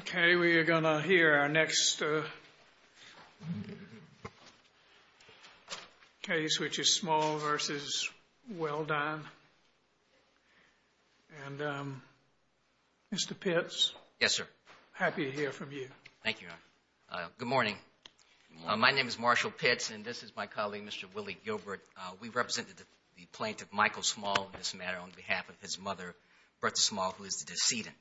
Okay, we are going to hear our next case, which is Small v. Welldyne. And, Mr. Pitts? Yes, sir. Happy to hear from you. Thank you, Your Honor. Good morning. Good morning. My name is Marshall Pitts, and this is my colleague, Mr. Willie Gilbert. We represent the plaintiff, Michael Small, in this matter, on behalf of his mother, Bertha Small, who is the decedent.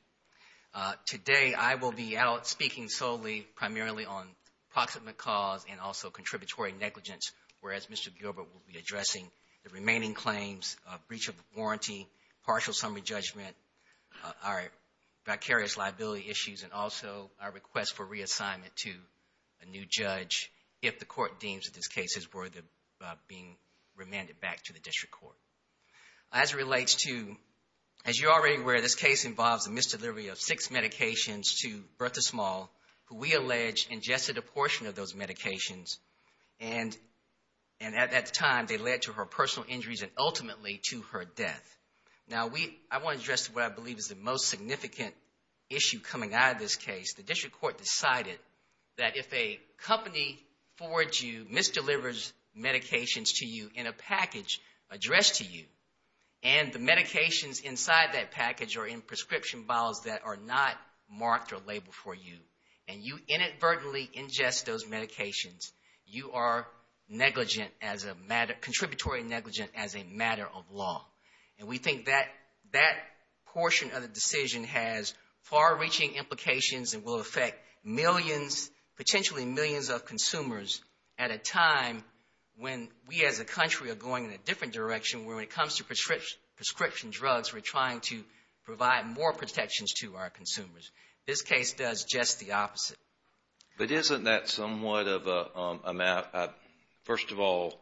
Today, I will be out speaking solely primarily on proximate cause and also contributory negligence, whereas Mr. Gilbert will be addressing the remaining claims, breach of the warranty, partial summary judgment, our vicarious liability issues, and also our request for reassignment to a new judge if the court deems that these cases were being remanded back to the district court. As it relates to, as you're already aware, this case involves a misdelivery of six medications to Bertha Small, who we allege ingested a portion of those medications, and at that time, they led to her personal injuries and ultimately to her death. Now, I want to address what I believe is the most significant issue coming out of this case. The district court decided that if a company forwards you, misdelivers medications to you in a package addressed to you, and the medications inside that package are in prescription bottles that are not marked or labeled for you, and you inadvertently ingest those medications, you are negligent as a matter, contributory negligent as a matter of law. And we think that portion of the decision has far-reaching implications and will affect millions, potentially millions of consumers at a time when we as a country are going in a different direction where when it comes to prescription drugs, we're trying to provide more protections to our consumers. This case does just the opposite. But isn't that somewhat of a map? First of all,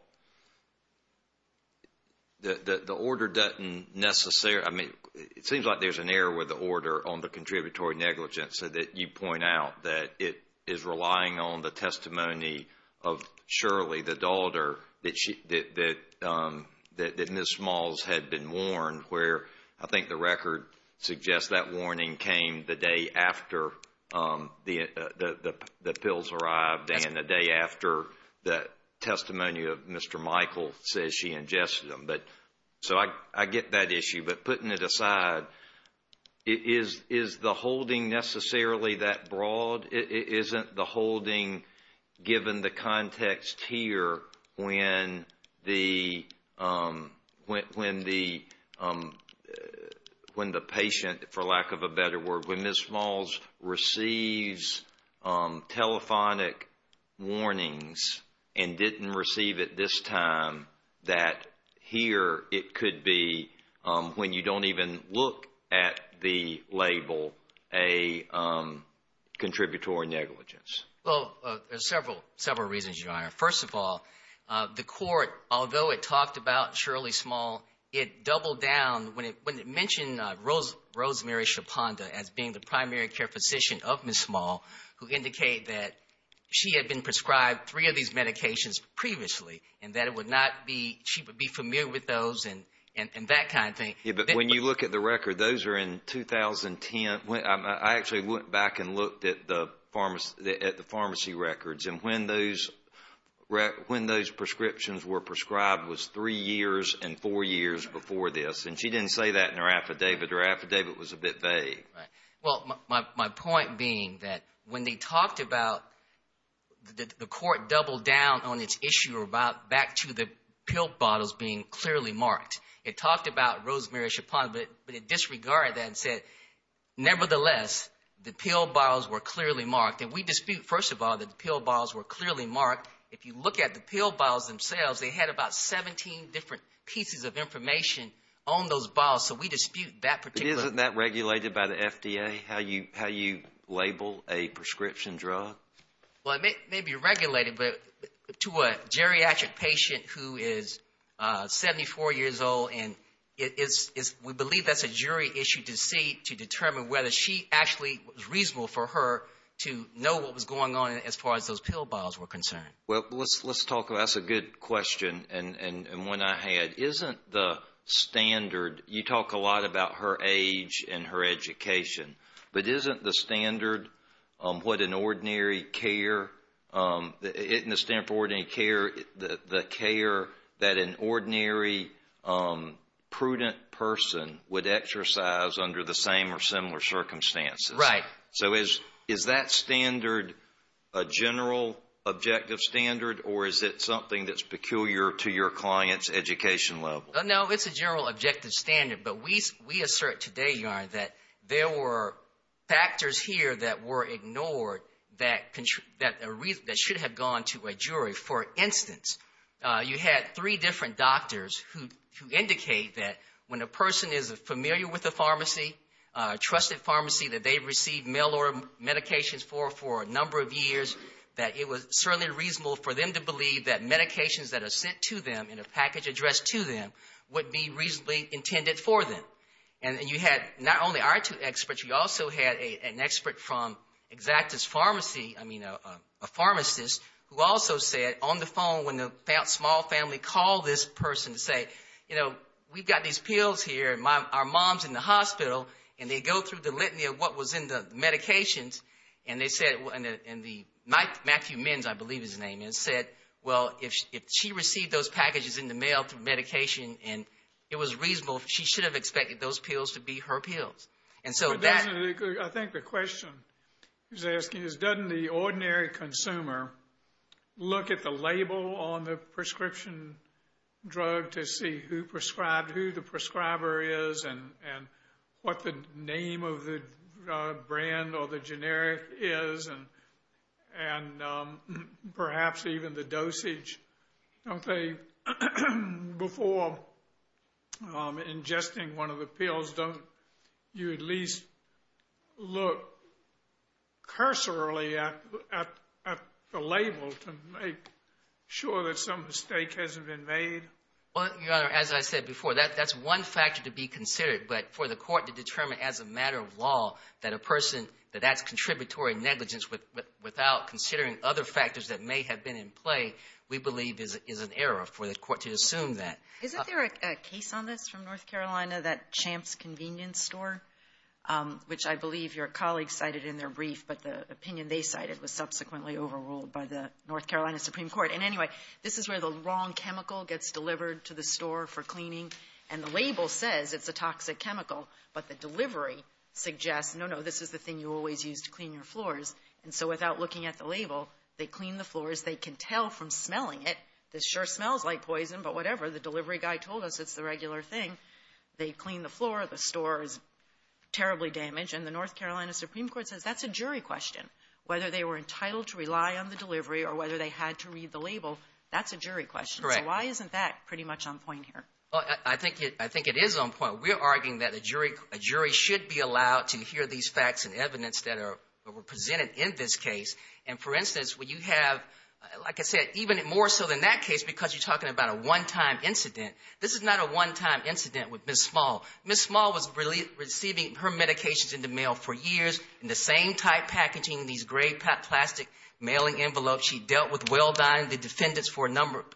the order doesn't necessarily, I mean, it seems like there's an error with the order on the contributory negligence so that you point out that it is relying on the testimony of Shirley, the daughter, that Ms. Smalls had been warned where I think the record suggests that warning came the day after the pills arrived and the day after the testimony of Mr. Michael says she ingested them. So I get that issue. But putting it aside, is the holding necessarily that broad? Isn't the holding, given the context here, when the patient, for lack of a better word, when Ms. Smalls receives telephonic warnings and didn't receive it this time, that here it could be, when you don't even look at the label, a contributory negligence? Well, there's several reasons, Your Honor. First of all, the court, although it talked about Shirley Small, it doubled down. When it mentioned Rosemary Chaponda as being the primary care physician of Ms. Small, who indicated that she had been prescribed three of these medications previously and that she would be familiar with those and that kind of thing. Yeah, but when you look at the record, those are in 2010. I actually went back and looked at the pharmacy records, and when those prescriptions were prescribed was three years and four years before this, and she didn't say that in her affidavit. Her affidavit was a bit vague. Right. Well, my point being that when they talked about the court doubled down on its issue back to the pill bottles being clearly marked, it talked about Rosemary Chaponda, but it disregarded that and said, nevertheless, the pill bottles were clearly marked. And we dispute, first of all, that the pill bottles were clearly marked. If you look at the pill bottles themselves, they had about 17 different pieces of information on those bottles, so we dispute that particular. Isn't that regulated by the FDA, how you label a prescription drug? Well, it may be regulated, but to a geriatric patient who is 74 years old, we believe that's a jury issue to determine whether she actually was reasonable for her to know what was going on as far as those pill bottles were concerned. Well, that's a good question and one I had. But isn't the standard, you talk a lot about her age and her education, but isn't the standard what an ordinary care, the standard for ordinary care, the care that an ordinary prudent person would exercise under the same or similar circumstances? Right. So is that standard a general objective standard, or is it something that's peculiar to your client's education level? No, it's a general objective standard. But we assert today, Your Honor, that there were factors here that were ignored that should have gone to a jury. For instance, you had three different doctors who indicate that when a person is familiar with a pharmacy, a trusted pharmacy that they've received mail-order medications for for a number of years, that it was certainly reasonable for them to believe that medications that are sent to them in a package addressed to them would be reasonably intended for them. And you had not only our two experts, you also had an expert from Exactus Pharmacy, I mean a pharmacist, who also said on the phone when the small family called this person to say, you know, we've got these pills here and our mom's in the hospital, and they go through the litany of what was in the medications, and they said, and Matthew Menz, I believe his name, said, well, if she received those packages in the mail through medication and it was reasonable, she should have expected those pills to be her pills. And so that... I think the question he's asking is, doesn't the ordinary consumer look at the label on the prescription drug to see who prescribed, who the prescriber is, and what the name of the brand or the generic is, and perhaps even the dosage? Don't they, before ingesting one of the pills, don't you at least look cursorily at the label to make sure that some mistake hasn't been made? Well, Your Honor, as I said before, that's one factor to be considered, but for the court to determine as a matter of law that a person, that that's contributory negligence without considering other factors that may have been in play, we believe is an error for the court to assume that. Isn't there a case on this from North Carolina, that Champs convenience store, which I believe your colleague cited in their brief, but the opinion they cited was subsequently overruled by the North Carolina Supreme Court. And anyway, this is where the wrong chemical gets delivered to the store for cleaning, and the label says it's a toxic chemical, but the delivery suggests, no, no, this is the thing you always use to clean your floors. And so without looking at the label, they clean the floors. They can tell from smelling it, this sure smells like poison, but whatever. The delivery guy told us it's the regular thing. They clean the floor. The store is terribly damaged. And the North Carolina Supreme Court says that's a jury question. Whether they were entitled to rely on the delivery or whether they had to read the label, that's a jury question. So why isn't that pretty much on point here? I think it is on point. We are arguing that a jury should be allowed to hear these facts and evidence that are presented in this case. And for instance, when you have, like I said, even more so than that case because you're talking about a one-time incident. This is not a one-time incident with Ms. Small. Ms. Small was receiving her medications in the mail for years in the same type packaging, these gray plastic mailing envelopes. She dealt with well-dyed defendants for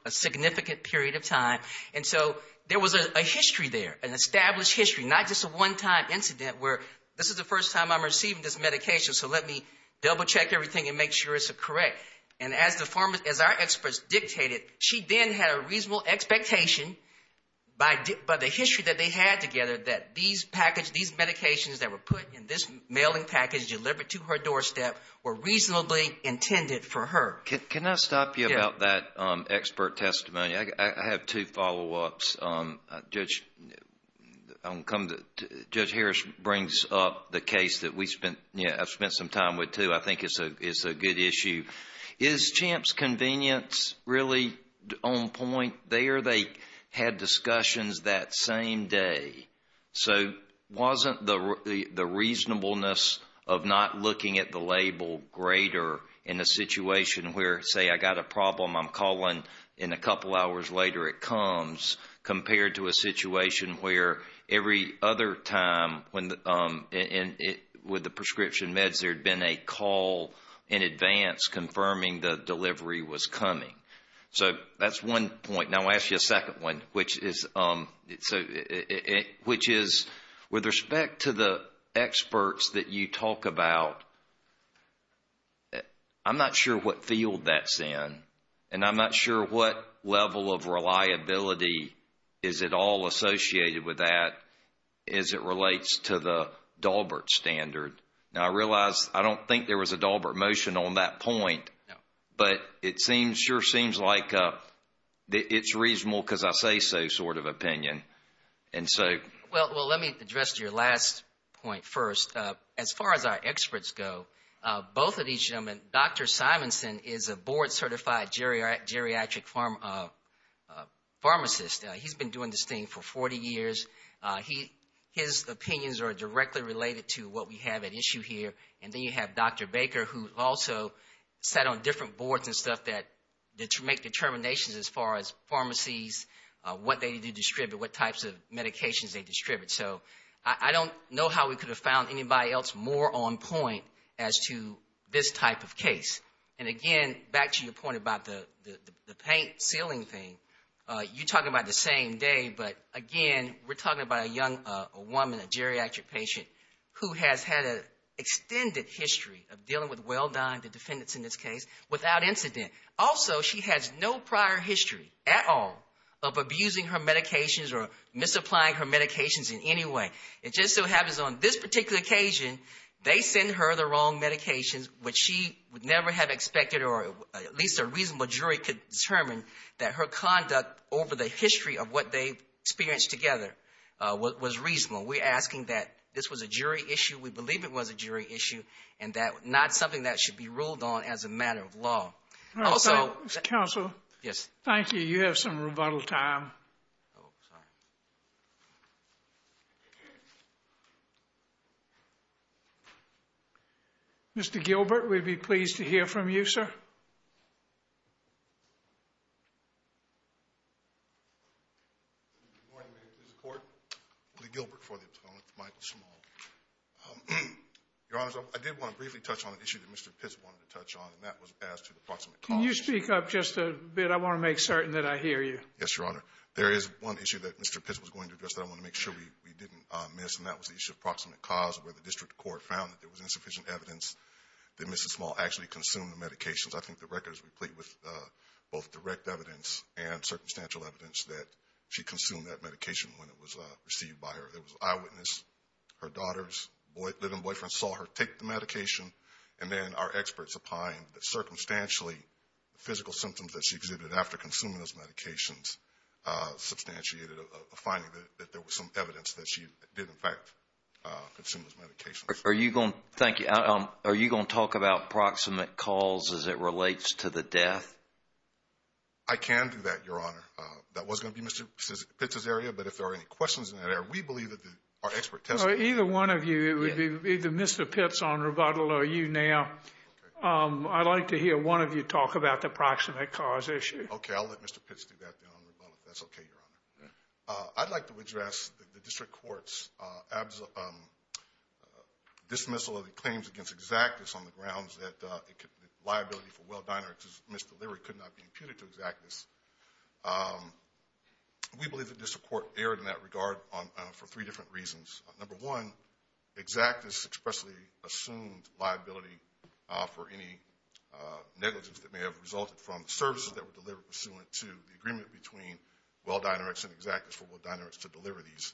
a significant period of time. And so there was a history there, an established history, not just a one-time incident where this is the first time I'm receiving this medication, so let me double-check everything and make sure it's correct. And as our experts dictated, she then had a reasonable expectation by the history that they had together that these medications that were put in this mailing package delivered to her doorstep were reasonably intended for her. Can I stop you about that expert testimony? I have two follow-ups. Judge Harris brings up the case that I've spent some time with too. I think it's a good issue. Is CHAMP's convenience really on point there? I'm sure they had discussions that same day. So wasn't the reasonableness of not looking at the label greater in a situation where, say, I got a problem, I'm calling, and a couple hours later it comes, compared to a situation where every other time with the prescription meds there had been a call in advance confirming the delivery was coming? So that's one point. Now I'll ask you a second one, which is with respect to the experts that you talk about, I'm not sure what field that's in, and I'm not sure what level of reliability is at all associated with that as it relates to the Daubert standard. Now I realize I don't think there was a Daubert motion on that point, but it sure seems like it's reasonable because I say so sort of opinion. Well, let me address your last point first. As far as our experts go, both of these gentlemen, Dr. Simonson is a board-certified geriatric pharmacist. He's been doing this thing for 40 years. His opinions are directly related to what we have at issue here. And then you have Dr. Baker who also sat on different boards and stuff that make determinations as far as pharmacies, what they do distribute, what types of medications they distribute. So I don't know how we could have found anybody else more on point as to this type of case. And again, back to your point about the paint sealing thing, you're talking about the same day, but again, we're talking about a young woman, a geriatric patient who has had an extended history of dealing with well-dying, the defendants in this case, without incident. Also, she has no prior history at all of abusing her medications or misapplying her medications in any way. It just so happens on this particular occasion, they send her the wrong medications, which she would never have expected or at least a reasonable jury could determine that her conduct over the history of what they've experienced together was reasonable. We're asking that this was a jury issue. We believe it was a jury issue and not something that should be ruled on as a matter of law. Counsel, thank you. You have some rebuttal time. Mr. Gilbert, we'd be pleased to hear from you, sir. Good morning, Mr. Court. Lee Gilbert for the appellant, Michael Small. Your Honor, I did want to briefly touch on an issue that Mr. Pitts wanted to touch on, and that was as to the proximate cause. Can you speak up just a bit? I want to make certain that I hear you. Yes, Your Honor. There is one issue that Mr. Pitts was going to address that I want to make sure we didn't miss, and that was the issue of proximate cause where the district court found that there was insufficient evidence that Mrs. Small actually consumed the medications. I think the record is replete with both direct evidence and circumstantial evidence that she consumed that medication when it was received by her. There was an eyewitness. Her daughter's living boyfriend saw her take the medication, and then our experts opined that circumstantially the physical symptoms that she exhibited after consuming those medications substantiated a finding that there was some evidence that she did, in fact, consume those medications. Thank you. Are you going to talk about proximate cause as it relates to the death? I can do that, Your Honor. That was going to be Mr. Pitts' area, but if there are any questions in that area, we believe that our expert testifies. Either one of you, it would be either Mr. Pitts on rebuttal or you now. I'd like to hear one of you talk about the proximate cause issue. Okay, I'll let Mr. Pitts do that then on rebuttal. If that's okay, Your Honor. I'd like to address the district court's dismissal of the claims against exactness on the grounds that liability for well diner misdelivery could not be imputed to exactness. We believe the district court erred in that regard for three different reasons. Number one, exactness expressly assumed liability for any negligence that may have resulted from services that were delivered pursuant to the agreement between well diners and exactness for well diners to deliver these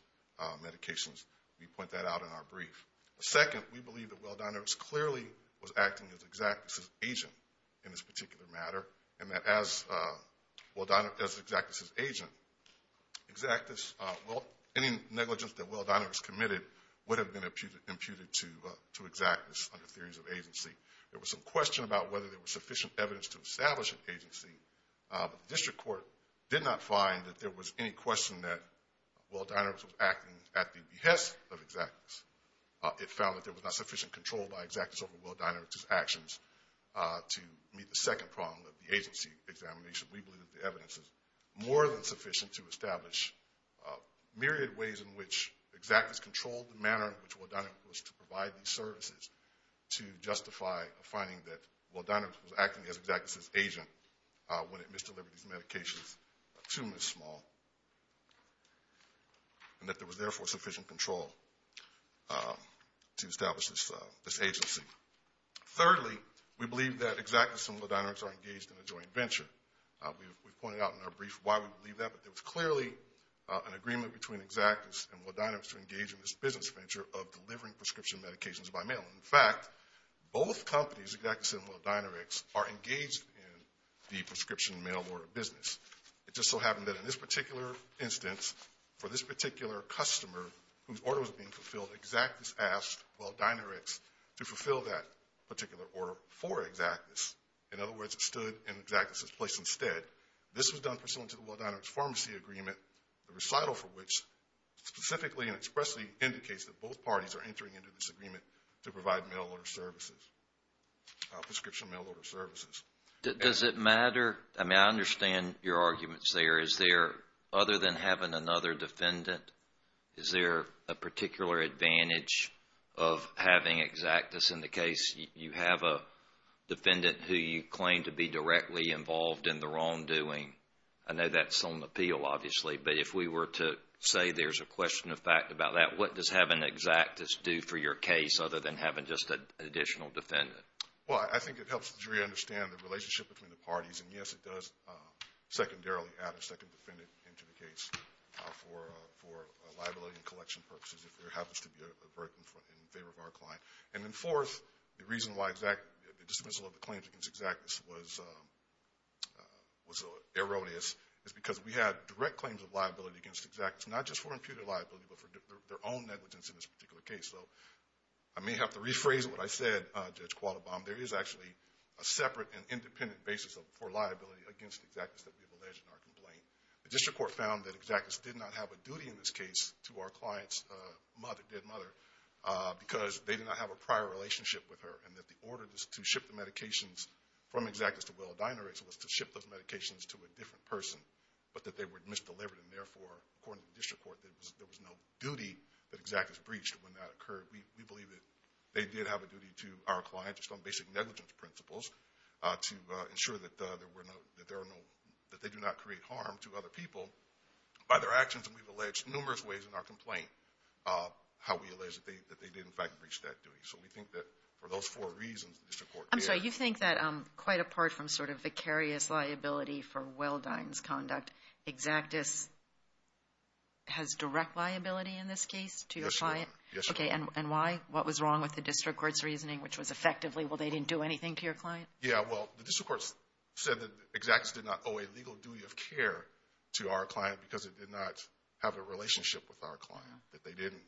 medications. We point that out in our brief. Second, we believe that well diners clearly was acting as exactness' agent in this particular matter and that as exactness' agent, any negligence that well diners committed would have been imputed to exactness under theories of agency. There was some question about whether there was sufficient evidence to establish an agency, but the district court did not find that there was any question that well diners was acting at the behest of exactness. It found that there was not sufficient control by exactness over well diners' actions to meet the second problem of the agency examination. We believe that the evidence is more than sufficient to establish myriad ways in which exactness controlled the manner in which well diners was to provide these services to justify a finding that well diners was acting as exactness' agent when it misdelivered these medications to Ms. Small and that there was therefore sufficient control to establish this agency. Thirdly, we believe that exactness and well diners are engaged in a joint venture. We've pointed out in our brief why we believe that, but there was clearly an agreement between exactness and well diners to engage in this business venture of delivering prescription medications by mail. In fact, both companies, exactness and well dinerics, are engaged in the prescription mail order business. It just so happened that in this particular instance, for this particular customer whose order was being fulfilled, exactness asked well dinerics to fulfill that particular order for exactness. In other words, it stood in exactness' place instead. This was done pursuant to the well dinerics pharmacy agreement, the recital for which specifically and expressly indicates that both parties are entering into this agreement to provide mail order services, prescription mail order services. Does it matter? I mean, I understand your arguments there. Is there, other than having another defendant, is there a particular advantage of having exactness in the case? You have a defendant who you claim to be directly involved in the wrongdoing. I know that's on appeal, obviously, but if we were to say there's a question of fact about that, what does having exactness do for your case other than having just an additional defendant? Well, I think it helps the jury understand the relationship between the parties, and yes, it does secondarily add a second defendant into the case for liability and collection purposes if there happens to be a verdict in favor of our client. And then fourth, the reason why the dismissal of the claims against exactness was erroneous is because we had direct claims of liability against exactness not just for imputed liability but for their own negligence in this particular case. So I may have to rephrase what I said, Judge Qualdebaum. There is actually a separate and independent basis for liability against exactness that we have alleged in our complaint. The district court found that exactness did not have a duty in this case to our client's mother, because they did not have a prior relationship with her, and that the order to ship the medications from exactness to Willa Deinerichs was to ship those medications to a different person, but that they were misdelivered, and therefore, according to the district court, there was no duty that exactness breached when that occurred. We believe that they did have a duty to our client just on basic negligence principles to ensure that they do not create harm to other people by their actions, and we've alleged numerous ways in our complaint how we allege that they did, in fact, breach that duty. So we think that for those four reasons, the district court— I'm sorry. You think that quite apart from sort of vicarious liability for Willa Deinerichs' conduct, exactness has direct liability in this case to your client? Yes, Your Honor. Yes, Your Honor. Okay, and why? What was wrong with the district court's reasoning, which was effectively, well, they didn't do anything to your client? Yeah, well, the district court said that exactness did not owe a legal duty of care to our client because it did not have a relationship with our client, that they didn't—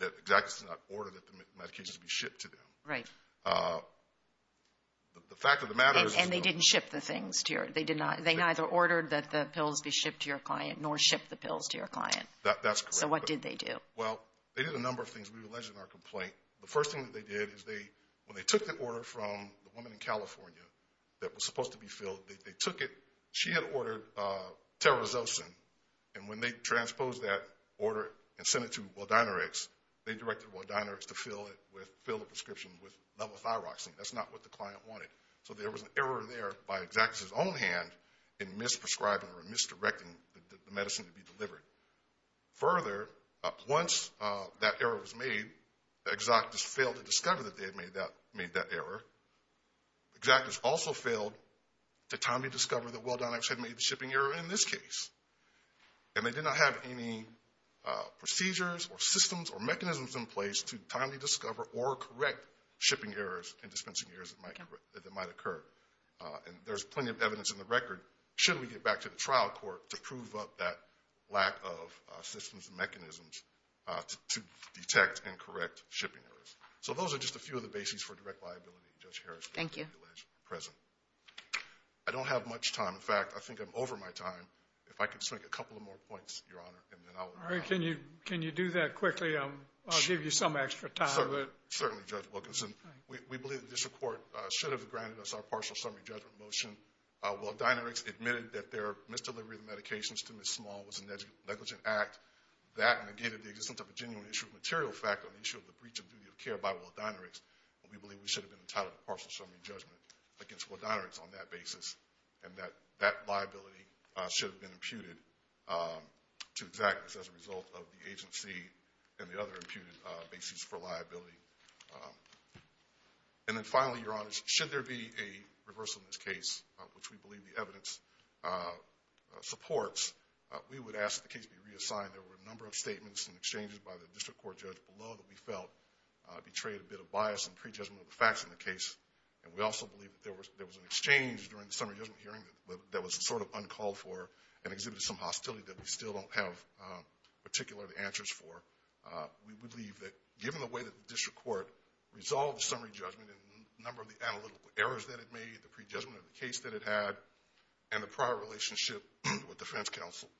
that exactness did not order that the medications be shipped to them. Right. The fact of the matter is— And they didn't ship the things to your—they neither ordered that the pills be shipped to your client nor shipped the pills to your client. That's correct. So what did they do? Well, they did a number of things. We've alleged in our complaint. The first thing that they did is when they took the order from the woman in California that was supposed to be filled, they took it. She had ordered Terozocin, and when they transposed that order and sent it to Weldinerix, they directed Weldinerix to fill it with—fill the prescription with levothyroxine. That's not what the client wanted. So there was an error there by exactness' own hand in misprescribing or misdirecting the medicine to be delivered. Further, once that error was made, exactness failed to discover that they had made that error. Exactness also failed to timely discover that Weldinerix had made the shipping error in this case. And they did not have any procedures or systems or mechanisms in place to timely discover or correct shipping errors and dispensing errors that might occur. And there's plenty of evidence in the record, should we get back to the trial court, to prove up that lack of systems and mechanisms to detect and correct shipping errors. So those are just a few of the bases for direct liability, Judge Harris. Thank you. I don't have much time. In fact, I think I'm over my time. If I could just make a couple of more points, Your Honor, and then I'll— All right. Can you do that quickly? I'll give you some extra time. Certainly, Judge Wilkinson. We believe the district court should have granted us our partial summary judgment motion. Weldinerix admitted that their misdelivery of medications to Ms. Small was a negligent act. That negated the existence of a genuine issue of material fact on the issue of the breach of duty of care by Weldinerix. And we believe we should have been entitled to partial summary judgment against Weldinerix on that basis. And that liability should have been imputed to exact this as a result of the agency and the other imputed bases for liability. And then finally, Your Honor, should there be a reversal in this case, which we believe the evidence supports, we would ask that the case be reassigned. There were a number of statements and exchanges by the district court judge below that we felt betrayed a bit of bias and prejudgment of the facts in the case. And we also believe that there was an exchange during the summary judgment hearing that was sort of uncalled for and exhibited some hostility that we still don't have particular answers for. We believe that given the way that the district court resolved the summary judgment and the number of the analytical errors that it made, the prejudgment of the case that it had, and the prior relationship with defense counsel,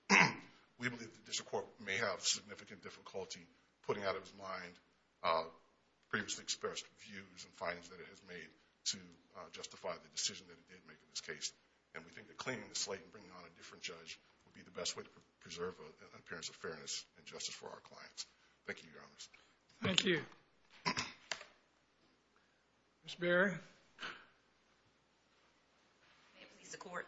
we believe that the district court may have significant difficulty putting out of its mind previously expressed views and findings that it has made to justify the decision that it did make in this case. And we think that cleaning the slate and bringing on a different judge would be the best way to preserve an appearance of fairness and justice for our clients. Thank you, Your Honor. Thank you. Ms. Bearer. May it please the court.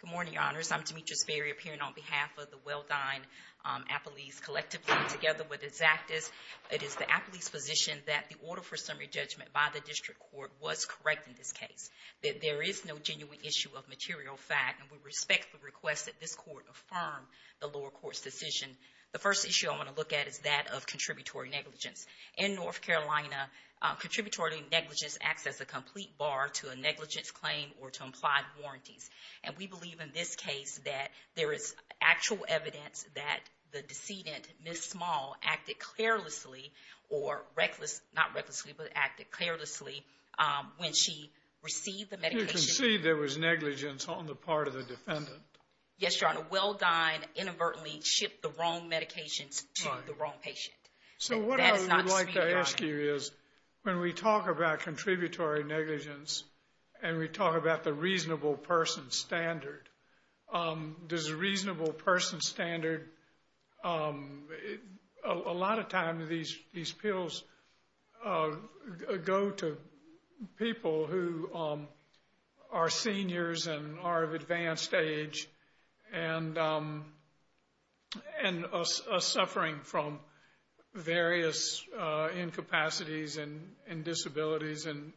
Good morning, Your Honors. I'm Demetrius Bearer, appearing on behalf of the Well-Dine-Appleese Collective team together with its actives. It is the Appleese position that the order for summary judgment by the district court was correct in this case, that there is no genuine issue of material fact, and we respect the request that this court affirm the lower court's decision. The first issue I want to look at is that of contributory negligence. In North Carolina, contributory negligence acts as a complete bar to a negligence claim or to implied warranties. And we believe in this case that there is actual evidence that the decedent, Ms. Small, acted carelessly or reckless, not recklessly, but acted carelessly when she received the medication. You can see there was negligence on the part of the defendant. Yes, Your Honor. Well-Dine inadvertently shipped the wrong medications to the wrong patient. So what I would like to ask you is when we talk about contributory negligence and we talk about the reasonable person standard, does a reasonable person standard, a lot of times these pills go to people who are seniors and are of advanced age and are suffering from various incapacities and disabilities. And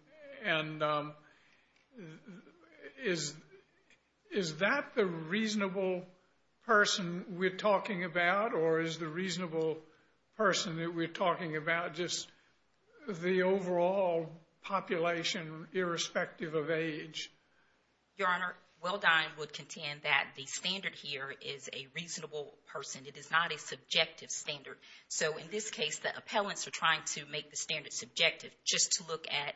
is that the reasonable person we're talking about or is the reasonable person that we're talking about just the overall population, irrespective of age? Your Honor, Well-Dine would contend that the standard here is a reasonable person. It is not a subjective standard. So in this case, the appellants are trying to make the standard subjective just to look at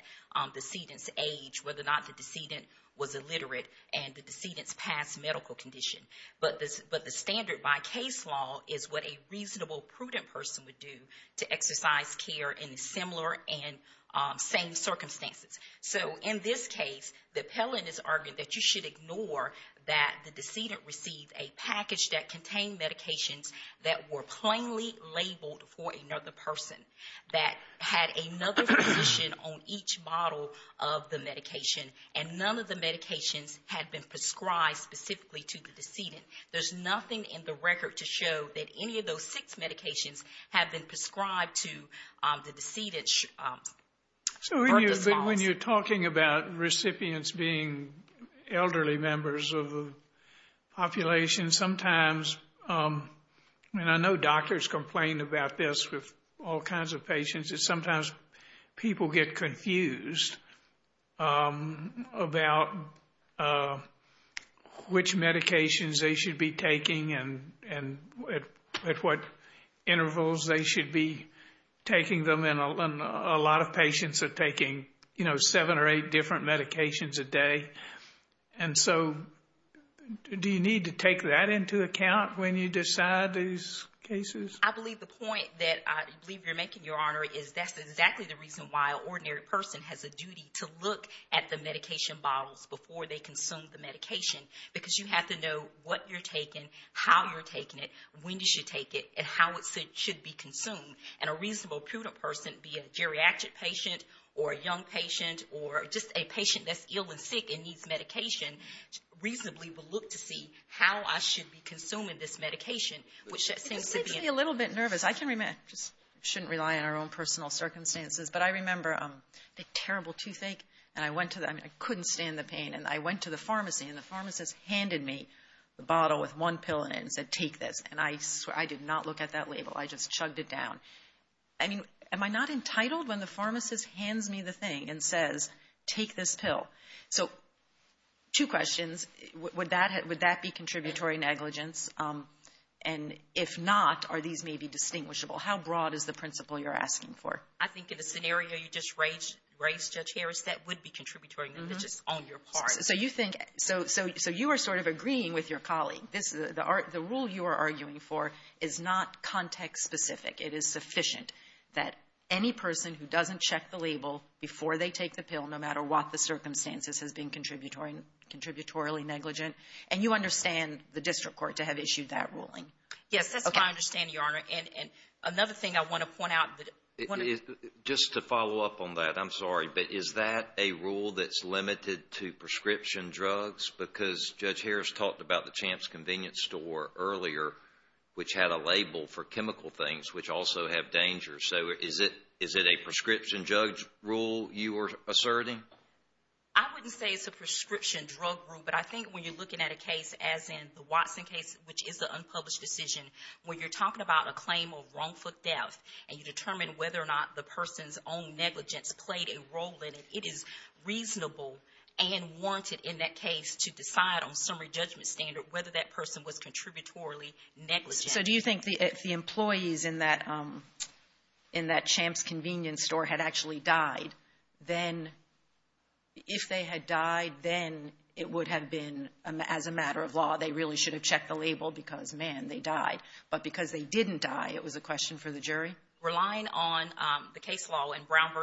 the decedent's age, whether or not the decedent was illiterate and the decedent's past medical condition. But the standard by case law is what a reasonable, prudent person would do to exercise care in similar and same circumstances. So in this case, the appellant is arguing that you should ignore that the decedent received a package that contained medications that were plainly labeled for another person that had another physician on each model of the medication and none of the medications had been prescribed specifically to the decedent. There's nothing in the record to show that any of those six medications have been prescribed to the decedent's birth response. So when you're talking about recipients being elderly members of the population, sometimes, and I know doctors complain about this with all kinds of patients, is sometimes people get confused about which medications they should be taking and at what intervals they should be taking them. And a lot of patients are taking, you know, seven or eight different medications a day. And so do you need to take that into account when you decide these cases? I believe the point that I believe you're making, Your Honor, is that's exactly the reason why an ordinary person has a duty to look at the medication bottles before they consume the medication because you have to know what you're taking, how you're taking it, when you should take it, and how it should be consumed. And a reasonable, prudent person, be it a geriatric patient or a young patient or just a patient that's ill and sick and needs medication, reasonably will look to see how I should be consuming this medication. It makes me a little bit nervous. I just shouldn't rely on our own personal circumstances. But I remember the terrible toothache, and I couldn't stand the pain. And I went to the pharmacy, and the pharmacist handed me the bottle with one pill in it and said, take this. And I swear, I did not look at that label. I just chugged it down. I mean, am I not entitled when the pharmacist hands me the thing and says, take this pill? So two questions. Would that be contributory negligence? And if not, are these maybe distinguishable? How broad is the principle you're asking for? I think in the scenario you just raised, Judge Harris, that would be contributory negligence on your part. So you are sort of agreeing with your colleague. The rule you are arguing for is not context-specific. It is sufficient that any person who doesn't check the label before they take the pill, no matter what the circumstances, has been contributory negligent. And you understand the district court to have issued that ruling. Yes, that's my understanding, Your Honor. And another thing I want to point out. Just to follow up on that, I'm sorry, but is that a rule that's limited to prescription drugs? Because Judge Harris talked about the Champ's Convenience Store earlier, which had a label for chemical things, which also have dangers. So is it a prescription drug rule you are asserting? I wouldn't say it's a prescription drug rule, but I think when you're looking at a case as in the Watson case, which is an unpublished decision, when you're talking about a claim of wrongful death and you determine whether or not the person's own negligence played a role in it, it is reasonable and warranted in that case to decide on summary judgment standard whether that person was contributory negligent. So do you think if the employees in that Champ's Convenience Store had actually died, then if they had died, then it would have been, as a matter of law, they really should have checked the label because, man, they died. But because they didn't die, it was a question for the jury? I'm relying on the case law in Brown v.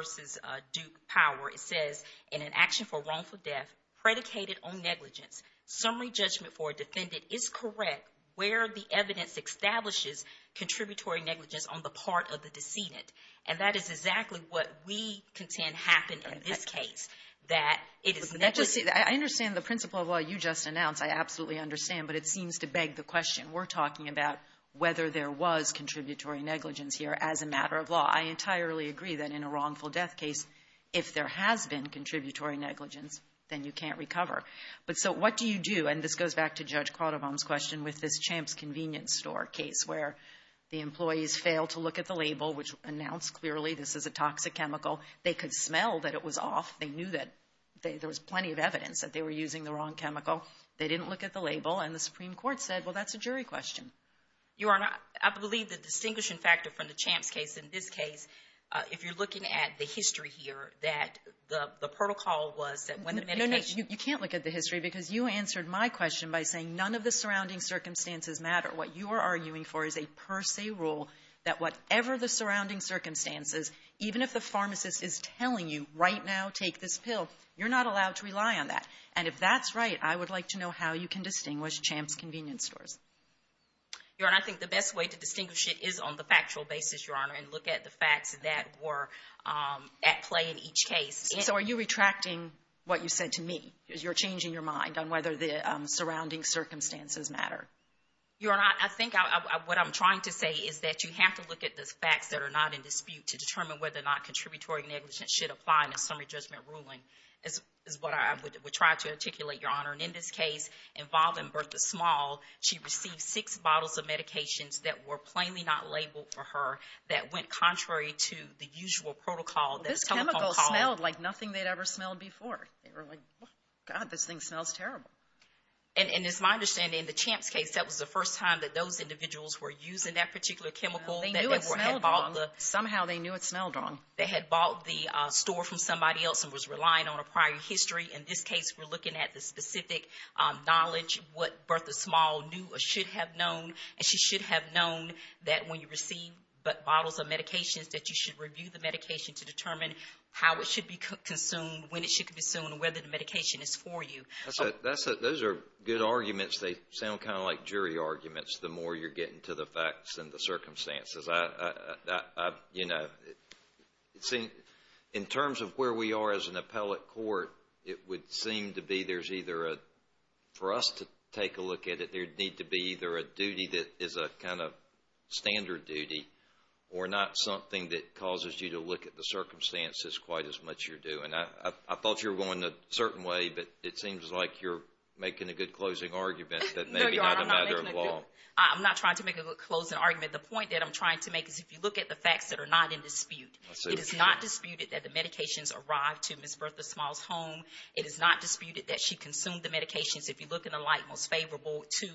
Duke Power. It says, in an action for wrongful death predicated on negligence, summary judgment for a defendant is correct where the evidence establishes contributory negligence on the part of the decedent. And that is exactly what we contend happened in this case, that it is negligent. I understand the principle of law you just announced. I absolutely understand, but it seems to beg the question. We're talking about whether there was contributory negligence here as a matter of law. I entirely agree that in a wrongful death case, if there has been contributory negligence, then you can't recover. But so what do you do? And this goes back to Judge Cronenbaum's question with this Champ's Convenience Store case where the employees failed to look at the label which announced clearly this is a toxic chemical. They could smell that it was off. They knew that there was plenty of evidence that they were using the wrong chemical. They didn't look at the label, and the Supreme Court said, well, that's a jury question. Your Honor, I believe the distinguishing factor from the Champ's case in this case, if you're looking at the history here, that the protocol was that when the medication No, no, you can't look at the history because you answered my question by saying none of the surrounding circumstances matter. What you are arguing for is a per se rule that whatever the surrounding circumstances, even if the pharmacist is telling you right now take this pill, you're not allowed to rely on that. And if that's right, I would like to know how you can distinguish Champ's Convenience Stores. Your Honor, I think the best way to distinguish it is on the factual basis, Your Honor, and look at the facts that were at play in each case. So are you retracting what you said to me? You're changing your mind on whether the surrounding circumstances matter. Your Honor, I think what I'm trying to say is that you have to look at the facts that are not in dispute to determine whether or not contributory negligence should apply in a summary judgment ruling is what I would try to articulate, Your Honor. And in this case involving Bertha Small, she received six bottles of medications that were plainly not labeled for her that went contrary to the usual protocol. This chemical smelled like nothing they'd ever smelled before. They were like, God, this thing smells terrible. And it's my understanding in the Champ's case, that was the first time that those individuals were using that particular chemical. They knew it smelled wrong. Somehow they knew it smelled wrong. They had bought the store from somebody else and was relying on a prior history. In this case, we're looking at the specific knowledge, what Bertha Small knew or should have known, and she should have known that when you receive bottles of medications that you should review the medication to determine how it should be consumed, when it should be consumed, and whether the medication is for you. Those are good arguments. They sound kind of like jury arguments the more you're getting to the facts and the circumstances. You know, in terms of where we are as an appellate court, it would seem to be there's either a—for us to take a look at it, there'd need to be either a duty that is a kind of standard duty or not something that causes you to look at the circumstances quite as much as you're doing. I thought you were going a certain way, but it seems like you're making a good closing argument that maybe not a matter of law. No, Your Honor, I'm not making a good—I'm not trying to make a good closing argument. The point that I'm trying to make is if you look at the facts that are not in dispute, it is not disputed that the medications arrived to Ms. Bertha Small's home. It is not disputed that she consumed the medications, if you look in the light most favorable to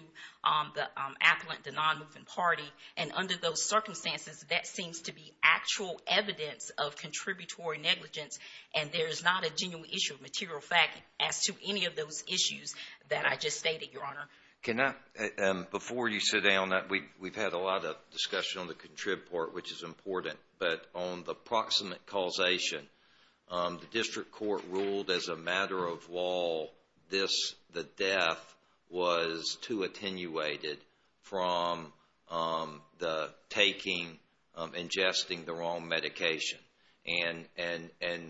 the appellant, the non-moving party. And under those circumstances, that seems to be actual evidence of contributory negligence, and there is not a genuine issue of material fact as to any of those issues that I just stated, Your Honor. Can I—before you sit down, we've had a lot of discussion on the contrib part, which is important, but on the proximate causation, the district court ruled as a matter of law this, the death was too attenuated from the taking, ingesting the wrong medication. And,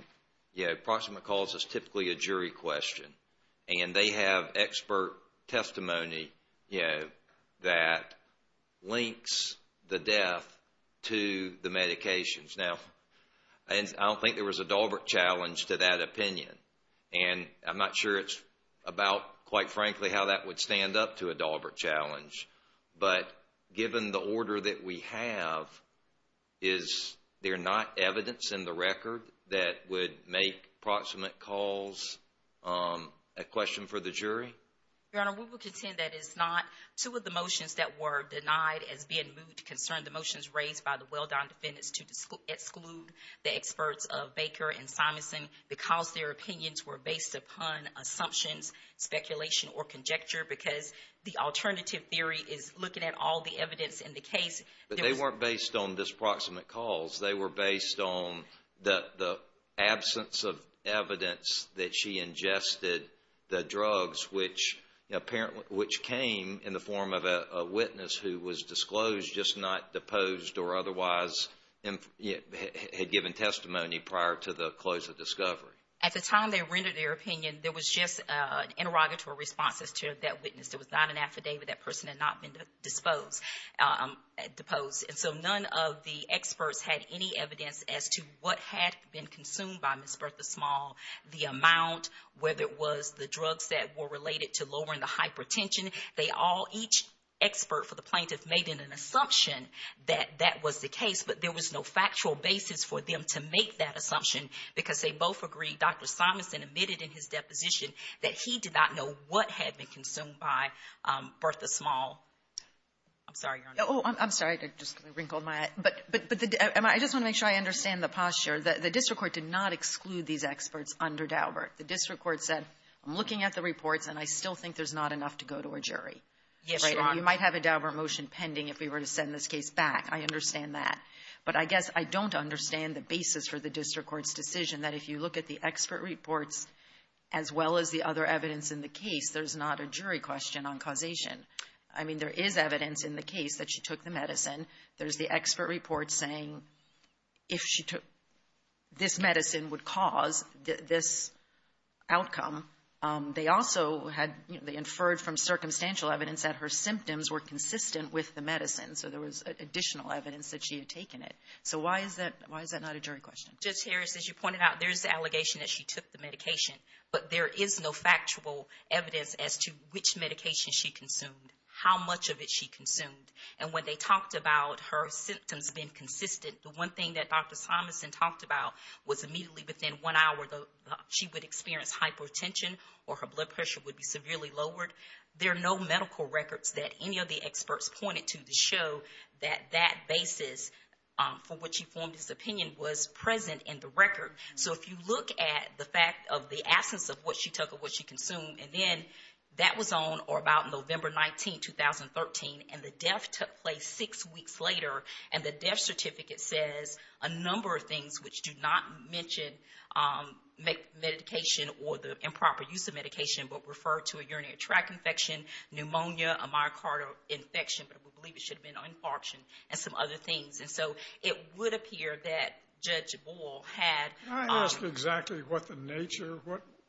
yeah, proximate cause is typically a jury question, and they have expert testimony that links the death to the medications. Now, I don't think there was a Dahlberg challenge to that opinion, and I'm not sure it's about, quite frankly, how that would stand up to a Dahlberg challenge, but given the order that we have, is there not evidence in the record that would make proximate cause a question for the jury? Your Honor, we will contend that it's not. Two of the motions that were denied as being moved to concern the motions raised by the Welldown defendants to exclude the experts of Baker and Simonson because their opinions were based upon assumptions, speculation, or conjecture because the alternative theory is looking at all the evidence in the case. But they weren't based on this proximate cause. They were based on the absence of evidence that she ingested the drugs, which came in the form of a witness who was disclosed, just not deposed or otherwise had given testimony prior to the close of discovery. At the time they rendered their opinion, there was just interrogatory responses to that witness. There was not an affidavit that person had not been deposed. So none of the experts had any evidence as to what had been consumed by Ms. Bertha Small, the amount, whether it was the drugs that were related to lowering the hypertension. Each expert for the plaintiff made an assumption that that was the case, but there was no factual basis for them to make that assumption because they both agreed. Dr. Simonson admitted in his deposition that he did not know what had been consumed by Bertha Small. I'm sorry, Your Honor. Oh, I'm sorry. I just wrinkled my eye. But I just want to make sure I understand the posture. The district court did not exclude these experts under Daubert. The district court said, I'm looking at the reports, and I still think there's not enough to go to a jury. Yes, Your Honor. You might have a Daubert motion pending if we were to send this case back. I understand that. But I guess I don't understand the basis for the district court's decision that if you look at the expert reports as well as the other evidence in the case, there's not a jury question on causation. I mean, there is evidence in the case that she took the medicine. There's the expert report saying if she took this medicine would cause this outcome. They also had inferred from circumstantial evidence that her symptoms were consistent with the medicine, so there was additional evidence that she had taken it. So why is that not a jury question? Judge Harris, as you pointed out, there's the allegation that she took the medication, but there is no factual evidence as to which medication she consumed, how much of it she consumed. And when they talked about her symptoms being consistent, the one thing that Dr. Simonson talked about was immediately within one hour she would experience hypertension or her blood pressure would be severely lowered. There are no medical records that any of the experts pointed to to show that that basis, from what she formed his opinion, was present in the record. So if you look at the fact of the absence of what she took or what she consumed, and then that was on or about November 19, 2013, and the death took place six weeks later, and the death certificate says a number of things which do not mention medication or the improper use of medication but refer to a urinary tract infection, pneumonia, a myocardial infection, but we believe it should have been an infarction, and some other things. And so it would appear that Judge Bull had- Can I ask exactly what the nature,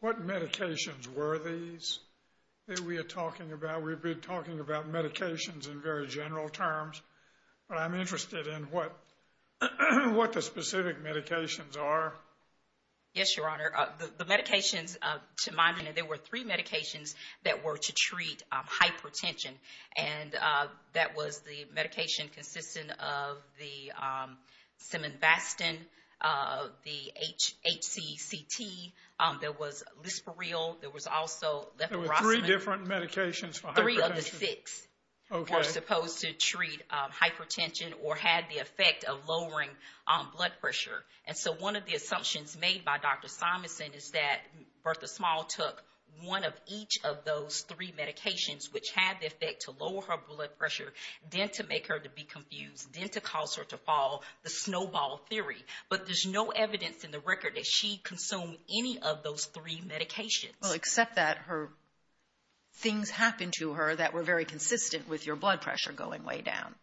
what medications were these that we are talking about? We've been talking about medications in very general terms, but I'm interested in what the specific medications are. Yes, Your Honor. The medications, to my knowledge, there were three medications that were to treat hypertension, and that was the medication consistent of the siminbastin, the HCCT. There was lisperil. There was also leprosy. There were three different medications for hypertension? Three of the six were supposed to treat hypertension or had the effect of lowering blood pressure. And so one of the assumptions made by Dr. Simonson is that Bertha Small took one of each of those three medications which had the effect to lower her blood pressure, then to make her to be confused, then to cause her to fall, the snowball theory. But there's no evidence in the record that she consumed any of those three medications. Well, except that her- things happened to her that were very consistent with your blood pressure going way down.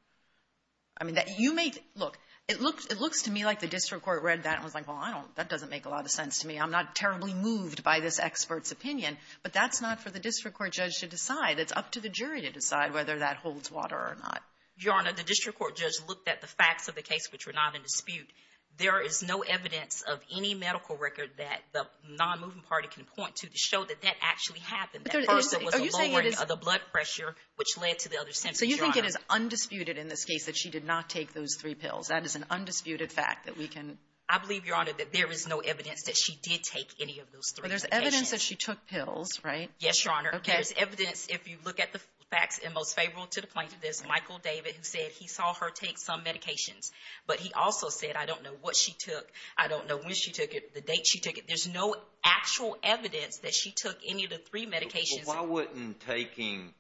I mean, you may- look, it looks to me like the district court read that and was like, well, I don't- that doesn't make a lot of sense to me. I'm not terribly moved by this expert's opinion, but that's not for the district court judge to decide. It's up to the jury to decide whether that holds water or not. Your Honor, the district court judge looked at the facts of the case, which were not in dispute. There is no evidence of any medical record that the non-moving party can point to to show that that actually happened. That Bertha was lowering the blood pressure, which led to the other symptoms, Your Honor. So you think it is undisputed in this case that she did not take those three pills? That is an undisputed fact that we can- I believe, Your Honor, that there is no evidence that she did take any of those three medications. So that means that she took pills, right? Yes, Your Honor. Okay. There's evidence, if you look at the facts, and most favorable to the plaintiff is Michael David, who said he saw her take some medications, but he also said, I don't know what she took, I don't know when she took it, the date she took it. There's no actual evidence that she took any of the three medications. Well, why wouldn't taking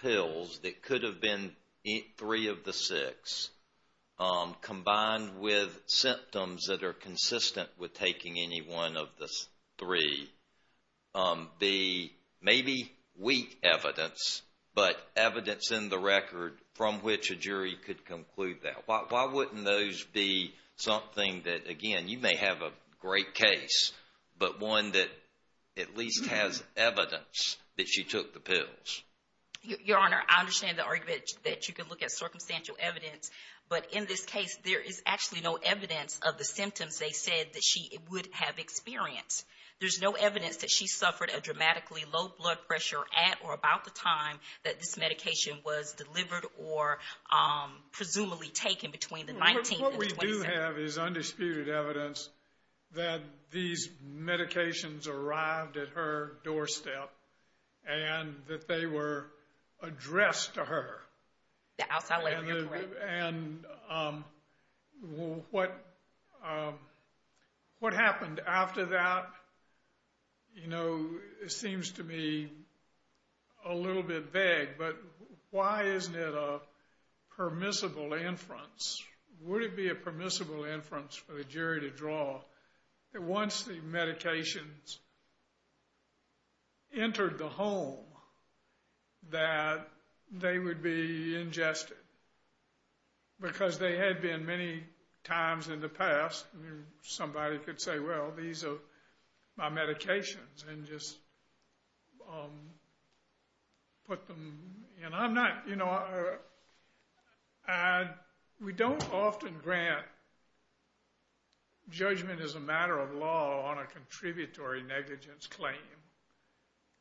pills that could have been three of the six, combined with symptoms that are consistent with taking any one of the three, be maybe weak evidence, but evidence in the record from which a jury could conclude that? Why wouldn't those be something that, again, you may have a great case, but one that at least has evidence that she took the pills? Your Honor, I understand the argument that you could look at circumstantial evidence, but in this case, there is actually no evidence of the symptoms they said that she would have experienced. There's no evidence that she suffered a dramatically low blood pressure at or about the time that this medication was delivered or presumably taken between the 19th and the 27th. What we do have is undisputed evidence that these medications arrived at her doorstep and that they were addressed to her. The outside layer, you're correct. And what happened after that, you know, seems to me a little bit vague, but why isn't it a permissible inference? Would it be a permissible inference for the jury to draw that once the medications entered the home that they would be ingested? Because they had been many times in the past. Somebody could say, well, these are my medications and just put them in. I'm not, you know, we don't often grant judgment as a matter of law on a contributory negligence claim.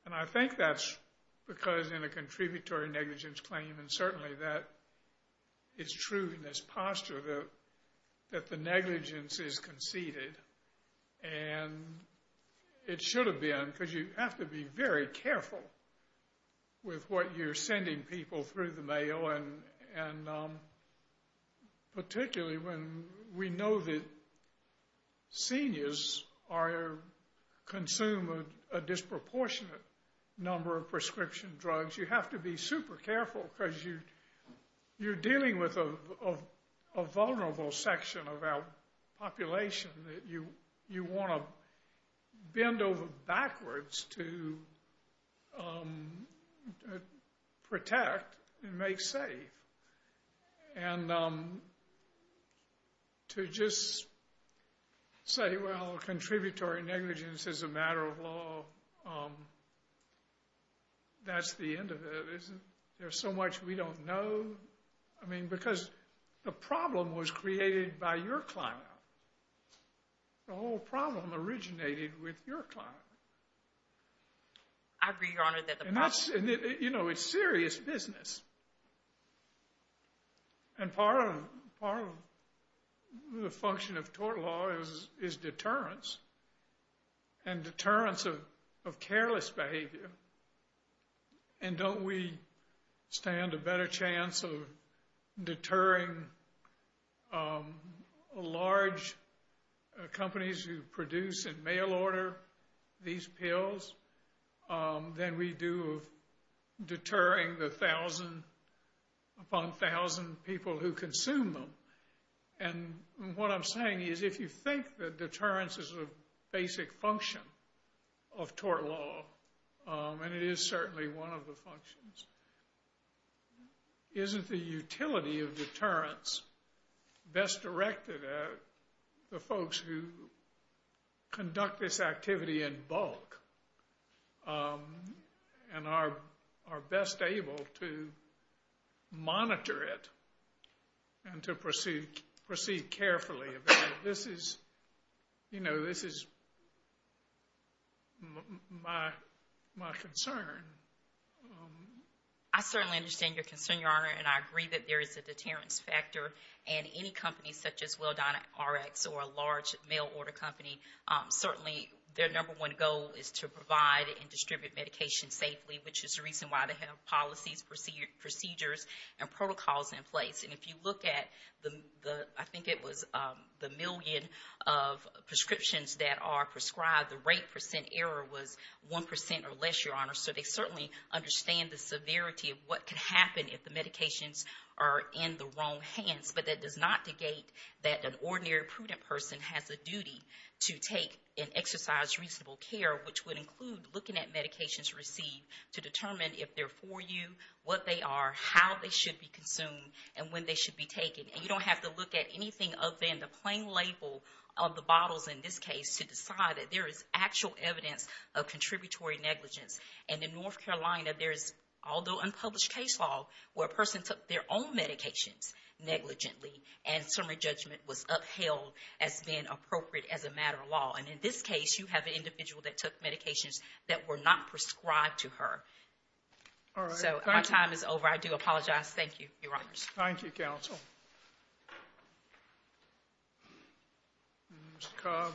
And I think that's because in a contributory negligence claim, and certainly that is true in this posture, that the negligence is conceded. And it should have been, because you have to be very careful with what you're sending people through the mail. And particularly when we know that seniors consume a disproportionate number of prescription drugs, you have to be super careful because you're dealing with a vulnerable section of our population that you want to bend over backwards to protect and make safe. And to just say, well, contributory negligence is a matter of law, that's the end of it, isn't it? There's so much we don't know. I mean, because the problem was created by your client. The whole problem originated with your client. I agree, Your Honor. You know, it's serious business. And part of the function of tort law is deterrence and deterrence of careless behavior. And don't we stand a better chance of deterring large companies who produce and mail order these pills than we do of deterring the thousand upon thousand people who consume them? And what I'm saying is if you think that deterrence is a basic function of tort law, and it is certainly one of the functions, isn't the utility of deterrence best directed at the folks who conduct this activity in bulk and are best able to monitor it and to proceed carefully? This is, you know, this is my concern. I certainly understand your concern, Your Honor, and I agree that there is a deterrence factor. And any company such as WellDineRx or a large mail order company, certainly their number one goal is to provide and distribute medication safely, which is the reason why they have policies, procedures, and protocols in place. And if you look at the, I think it was the million of prescriptions that are prescribed, the rate percent error was 1% or less, Your Honor. So they certainly understand the severity of what can happen if the medications are in the wrong hands. But that does not negate that an ordinary prudent person has a duty to take and exercise reasonable care, which would include looking at medications received to determine if they're for you, what they are, how they should be consumed, and when they should be taken. And you don't have to look at anything other than the plain label of the bottles in this case to decide that there is actual evidence of contributory negligence. And in North Carolina, there is, although unpublished case law, where a person took their own medications negligently and summary judgment was upheld as being appropriate as a matter of law. And in this case, you have an individual that took medications that were not prescribed to her. So our time is over. I do apologize. Thank you, Your Honors. Thank you, Counsel. Mr. Cobb.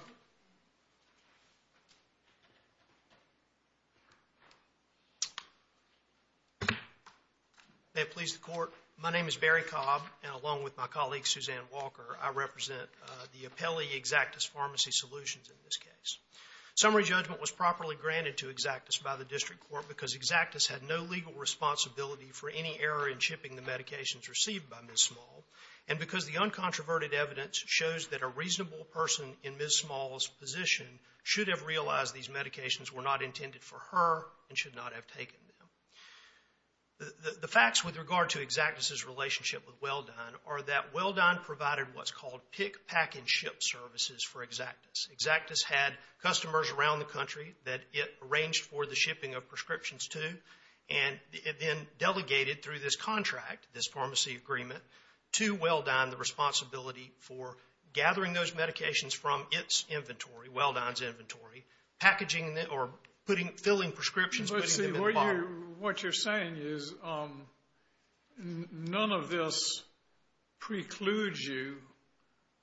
May it please the Court. My name is Barry Cobb, and along with my colleague, Suzanne Walker, I represent the appellee Xactus Pharmacy Solutions in this case. Summary judgment was properly granted to Xactus by the district court because Xactus had no legal responsibility for any error in shipping the medications received by Ms. Small, and because the uncontroverted evidence shows that a reasonable person in Ms. Small's position should have realized these medications were not intended for her and should not have taken them. The facts with regard to Xactus's relationship with Welldone are that Welldone provided what's called pick, pack, and ship services for Xactus. Xactus had customers around the country that it arranged for the shipping of prescriptions to, and then delegated through this contract, this pharmacy agreement, to Welldone the responsibility for gathering those medications from its inventory, Welldone's inventory, packaging them or filling prescriptions, putting them in the bottle. What you're saying is none of this precludes you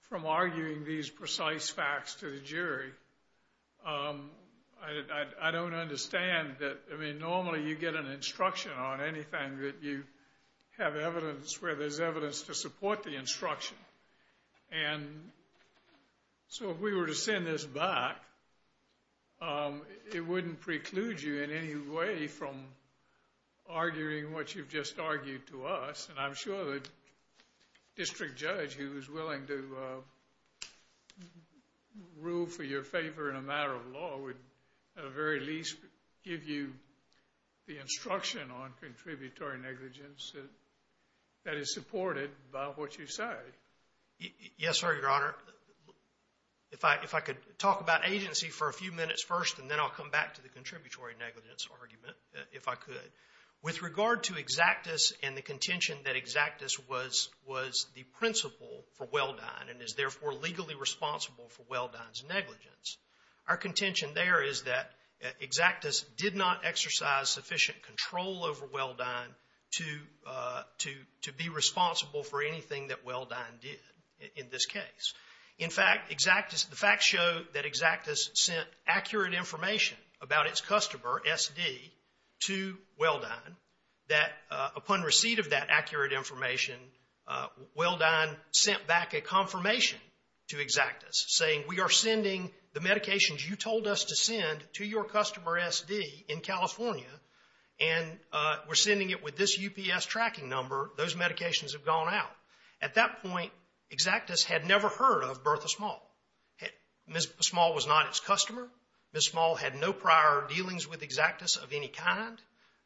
from arguing these precise facts to the jury. I don't understand that, I mean, normally you get an instruction on anything that you have evidence where there's evidence to support the instruction, and so if we were to send this back, it wouldn't preclude you in any way from arguing what you've just argued to us, and I'm sure the district judge who is willing to rule for your favor in a matter of law would at the very least give you the instruction on contributory negligence that is supported by what you say. Yes, sir, Your Honor. If I could talk about agency for a few minutes first, and then I'll come back to the contributory negligence argument if I could. With regard to Exactus and the contention that Exactus was the principal for Welldone and is therefore legally responsible for Welldone's negligence, our contention there is that Exactus did not exercise sufficient control over Welldone to be responsible for anything that Welldone did in this case. In fact, the facts show that Exactus sent accurate information about its customer, SD, to Welldone that upon receipt of that accurate information, Welldone sent back a confirmation to Exactus saying we are sending the medications you told us to send to your customer, SD, in California, and we're sending it with this UPS tracking number, those medications have gone out. At that point, Exactus had never heard of Bertha Small. Ms. Small was not its customer. Ms. Small had no prior dealings with Exactus of any kind.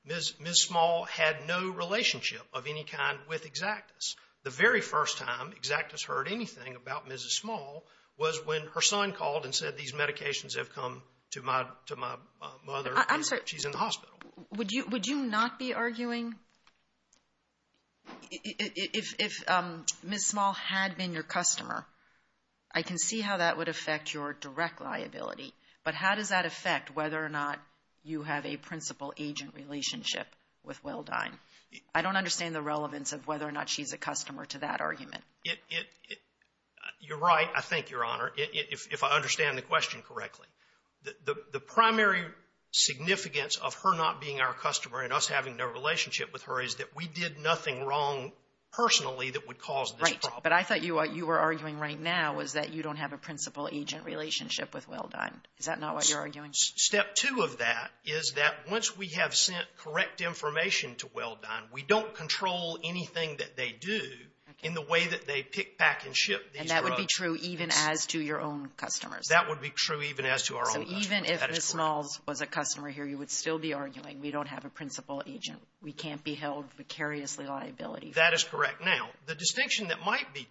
Ms. Small had no relationship of any kind with Exactus. The very first time Exactus heard anything about Mrs. Small was when her son called and said these medications have come to my mother. I'm sorry. She's in the hospital. Would you not be arguing if Ms. Small had been your customer? I can see how that would affect your direct liability, but how does that affect whether or not you have a principal-agent relationship with Welldone? I don't understand the relevance of whether or not she's a customer to that argument. You're right, I think, Your Honor, if I understand the question correctly. The primary significance of her not being our customer and us having no relationship with her is that we did nothing wrong personally that would cause this problem. Right, but I thought what you were arguing right now was that you don't have a principal-agent relationship with Welldone. Is that not what you're arguing? Step two of that is that once we have sent correct information to Welldone, we don't control anything that they do in the way that they pick, pack, and ship these drugs. And that would be true even as to your own customers? That would be true even as to our own customers. So even if Ms. Small was a customer here, you would still be arguing we don't have a principal-agent? We can't be held precariously liability? That is correct. Now, the distinction that might be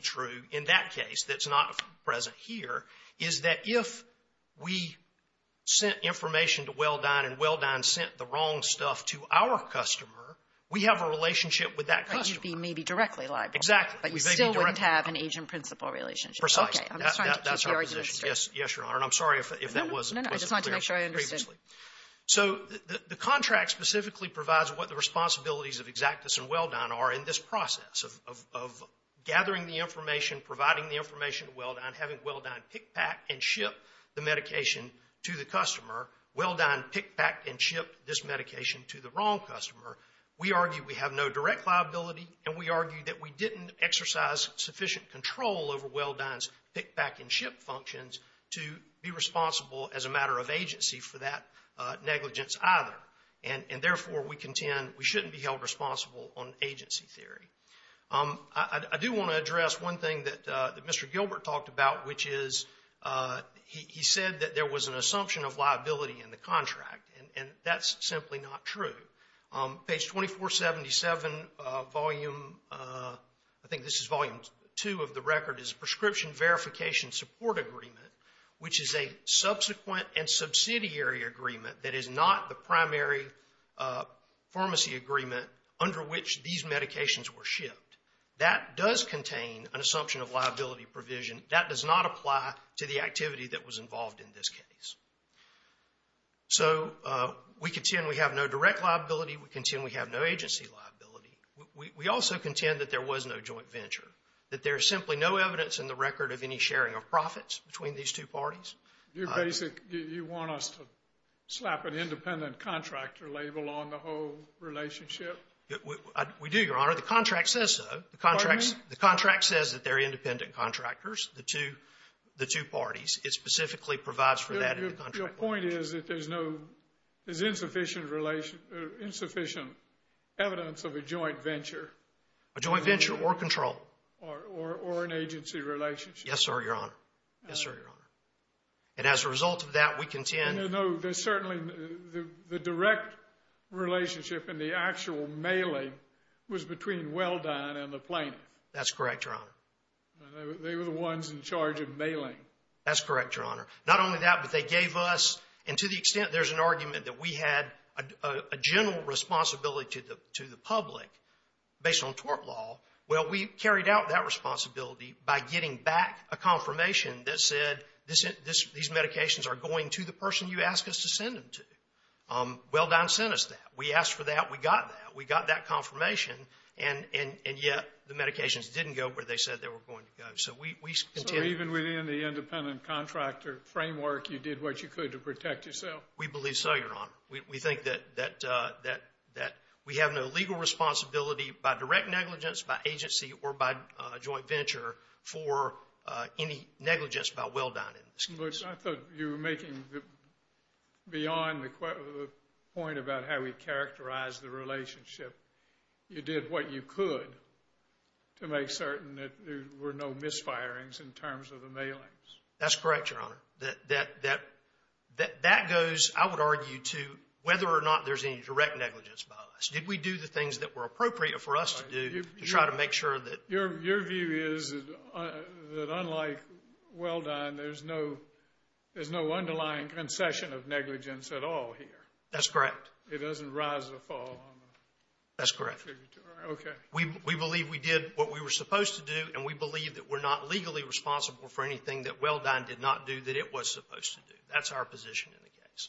true in that case that's not present here is that if we sent information to Welldone and Welldone sent the wrong stuff to our customer, we have a relationship with that customer. You'd be maybe directly liable. Exactly. But you still wouldn't have an agent-principal relationship. Precisely. That's our position. Yes, Your Honor. And I'm sorry if that wasn't clear previously. No, no. I just wanted to make sure I understood. So the contract specifically provides what the responsibilities of Exactus and Welldone are in this process of gathering the information, providing the information to Welldone, having Welldone pick, pack, and ship the medication to the customer. Welldone pick, pack, and ship this medication to the wrong customer. We argue we have no direct liability, and we argue that we didn't exercise sufficient control over Welldone's pick, pack, and ship functions to be responsible as a matter of agency for that negligence either. And therefore, we contend we shouldn't be held responsible on agency theory. I do want to address one thing that Mr. Gilbert talked about, which is he said that there was an assumption of liability in the contract, and that's simply not true. Page 2477, Volume, I think this is Volume 2 of the record, is Prescription Verification Support Agreement, which is a subsequent and subsidiary agreement that is not the primary pharmacy agreement under which these medications were shipped. That does contain an assumption of liability provision. That does not apply to the activity that was involved in this case. So we contend we have no direct liability. We contend we have no agency liability. We also contend that there was no joint venture, that there is simply no evidence in the record of any sharing of profits between these two parties. Scalia You basically want us to slap an independent contractor label on the whole relationship? Welldone We do, Your Honor. The contract says so. The contract says that they're independent contractors, the two parties. It specifically provides for that in the contract. Your point is that there's insufficient evidence of a joint venture. A joint venture or control. Or an agency relationship. Yes, sir, Your Honor. Yes, sir, Your Honor. And as a result of that, we contend. No, there's certainly the direct relationship in the actual mailing was between Welldone and the plaintiff. That's correct, Your Honor. They were the ones in charge of mailing. That's correct, Your Honor. Not only that, but they gave us. And to the extent there's an argument that we had a general responsibility to the public based on tort law, well, we carried out that responsibility by getting back a confirmation that said these medications are going to the person you asked us to send them to. Welldone sent us that. We asked for that. We got that. We got that confirmation. And yet the medications didn't go where they said they were going to go. So even within the independent contractor framework, you did what you could to protect yourself? We believe so, Your Honor. We think that we have no legal responsibility by direct negligence, by agency, or by joint venture for any negligence by Welldone. But I thought you were making beyond the point about how we characterize the relationship. You did what you could to make certain that there were no misfirings in terms of the mailings. That's correct, Your Honor. That goes, I would argue, to whether or not there's any direct negligence by us. Did we do the things that were appropriate for us to do to try to make sure that Your view is that unlike Welldone, there's no underlying concession of negligence at all here. That's correct. It doesn't rise or fall. That's correct. Okay. We believe we did what we were supposed to do, and we believe that we're not legally responsible for anything that Welldone did not do that it was supposed to do. That's our position in the case.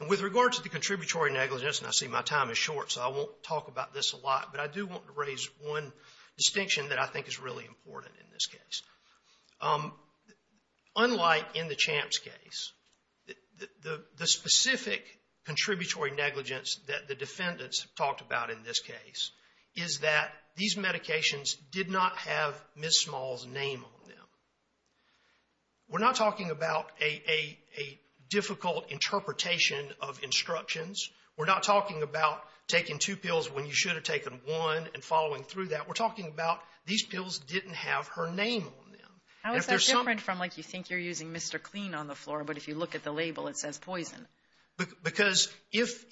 And with regard to the contributory negligence, and I see my time is short, so I won't talk about this a lot, but I do want to raise one distinction that I think is really important in this case. Unlike in the Champ's case, the specific contributory negligence that the defendants talked about in this case is that these medications did not have Ms. Small's name on them. We're not talking about a difficult interpretation of instructions. We're not talking about taking two pills when you should have taken one and following through that. We're talking about these pills didn't have her name on them. How is that different from like you think you're using Mr. Clean on the floor, but if you look at the label it says poison? Because if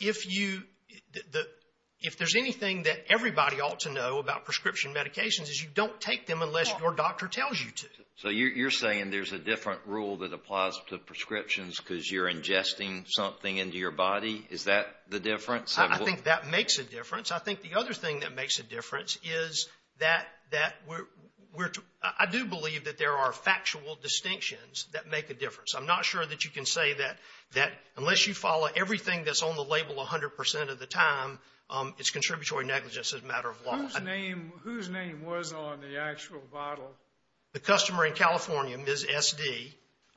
there's anything that everybody ought to know about prescription medications is you don't take them unless your doctor tells you to. So you're saying there's a different rule that applies to prescriptions because you're ingesting something into your body? Is that the difference? I think that makes a difference. I think the other thing that makes a difference is that I do believe that there are factual distinctions that make a difference. I'm not sure that you can say that unless you follow everything that's on the label 100% of the time, it's contributory negligence as a matter of law. Whose name was on the actual bottle? The customer in California, Ms. SD,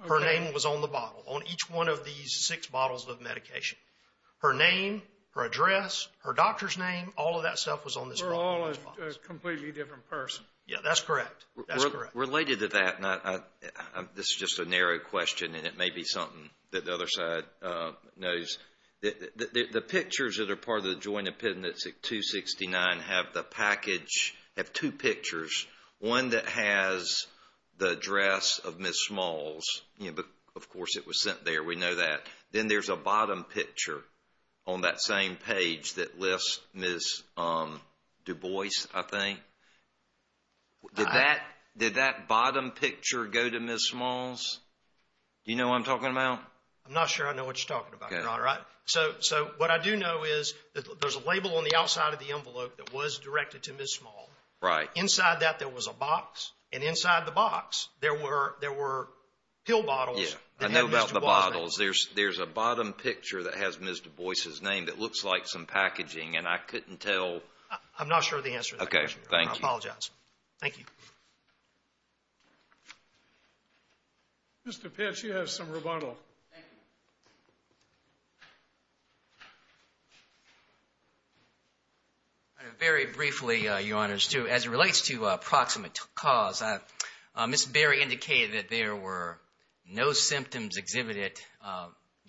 her name was on the bottle, on each one of these six bottles of medication. Her name, her address, her doctor's name, all of that stuff was on this bottle. We're all a completely different person. Yeah, that's correct. That's correct. Related to that, this is just a narrow question, and it may be something that the other side knows. The pictures that are part of the Joint Appendix 269 have the package, have two pictures, one that has the address of Ms. Smalls. Of course it was sent there, we know that. Then there's a bottom picture on that same page that lists Ms. DuBois, I think. Did that bottom picture go to Ms. Smalls? Do you know what I'm talking about? I'm not sure I know what you're talking about, Your Honor. So what I do know is that there's a label on the outside of the envelope that was directed to Ms. Smalls. Right. Inside that there was a box, and inside the box there were pill bottles. Yeah, I know about the bottles. There's a bottom picture that has Ms. DuBois' name that looks like some packaging, and I couldn't tell. I'm not sure of the answer to that question. Okay, thank you. I apologize. Thank you. Mr. Petsch, you have some rebuttal. Thank you. Very briefly, Your Honor, as it relates to approximate cause, Ms. Berry indicated that there were no symptoms exhibited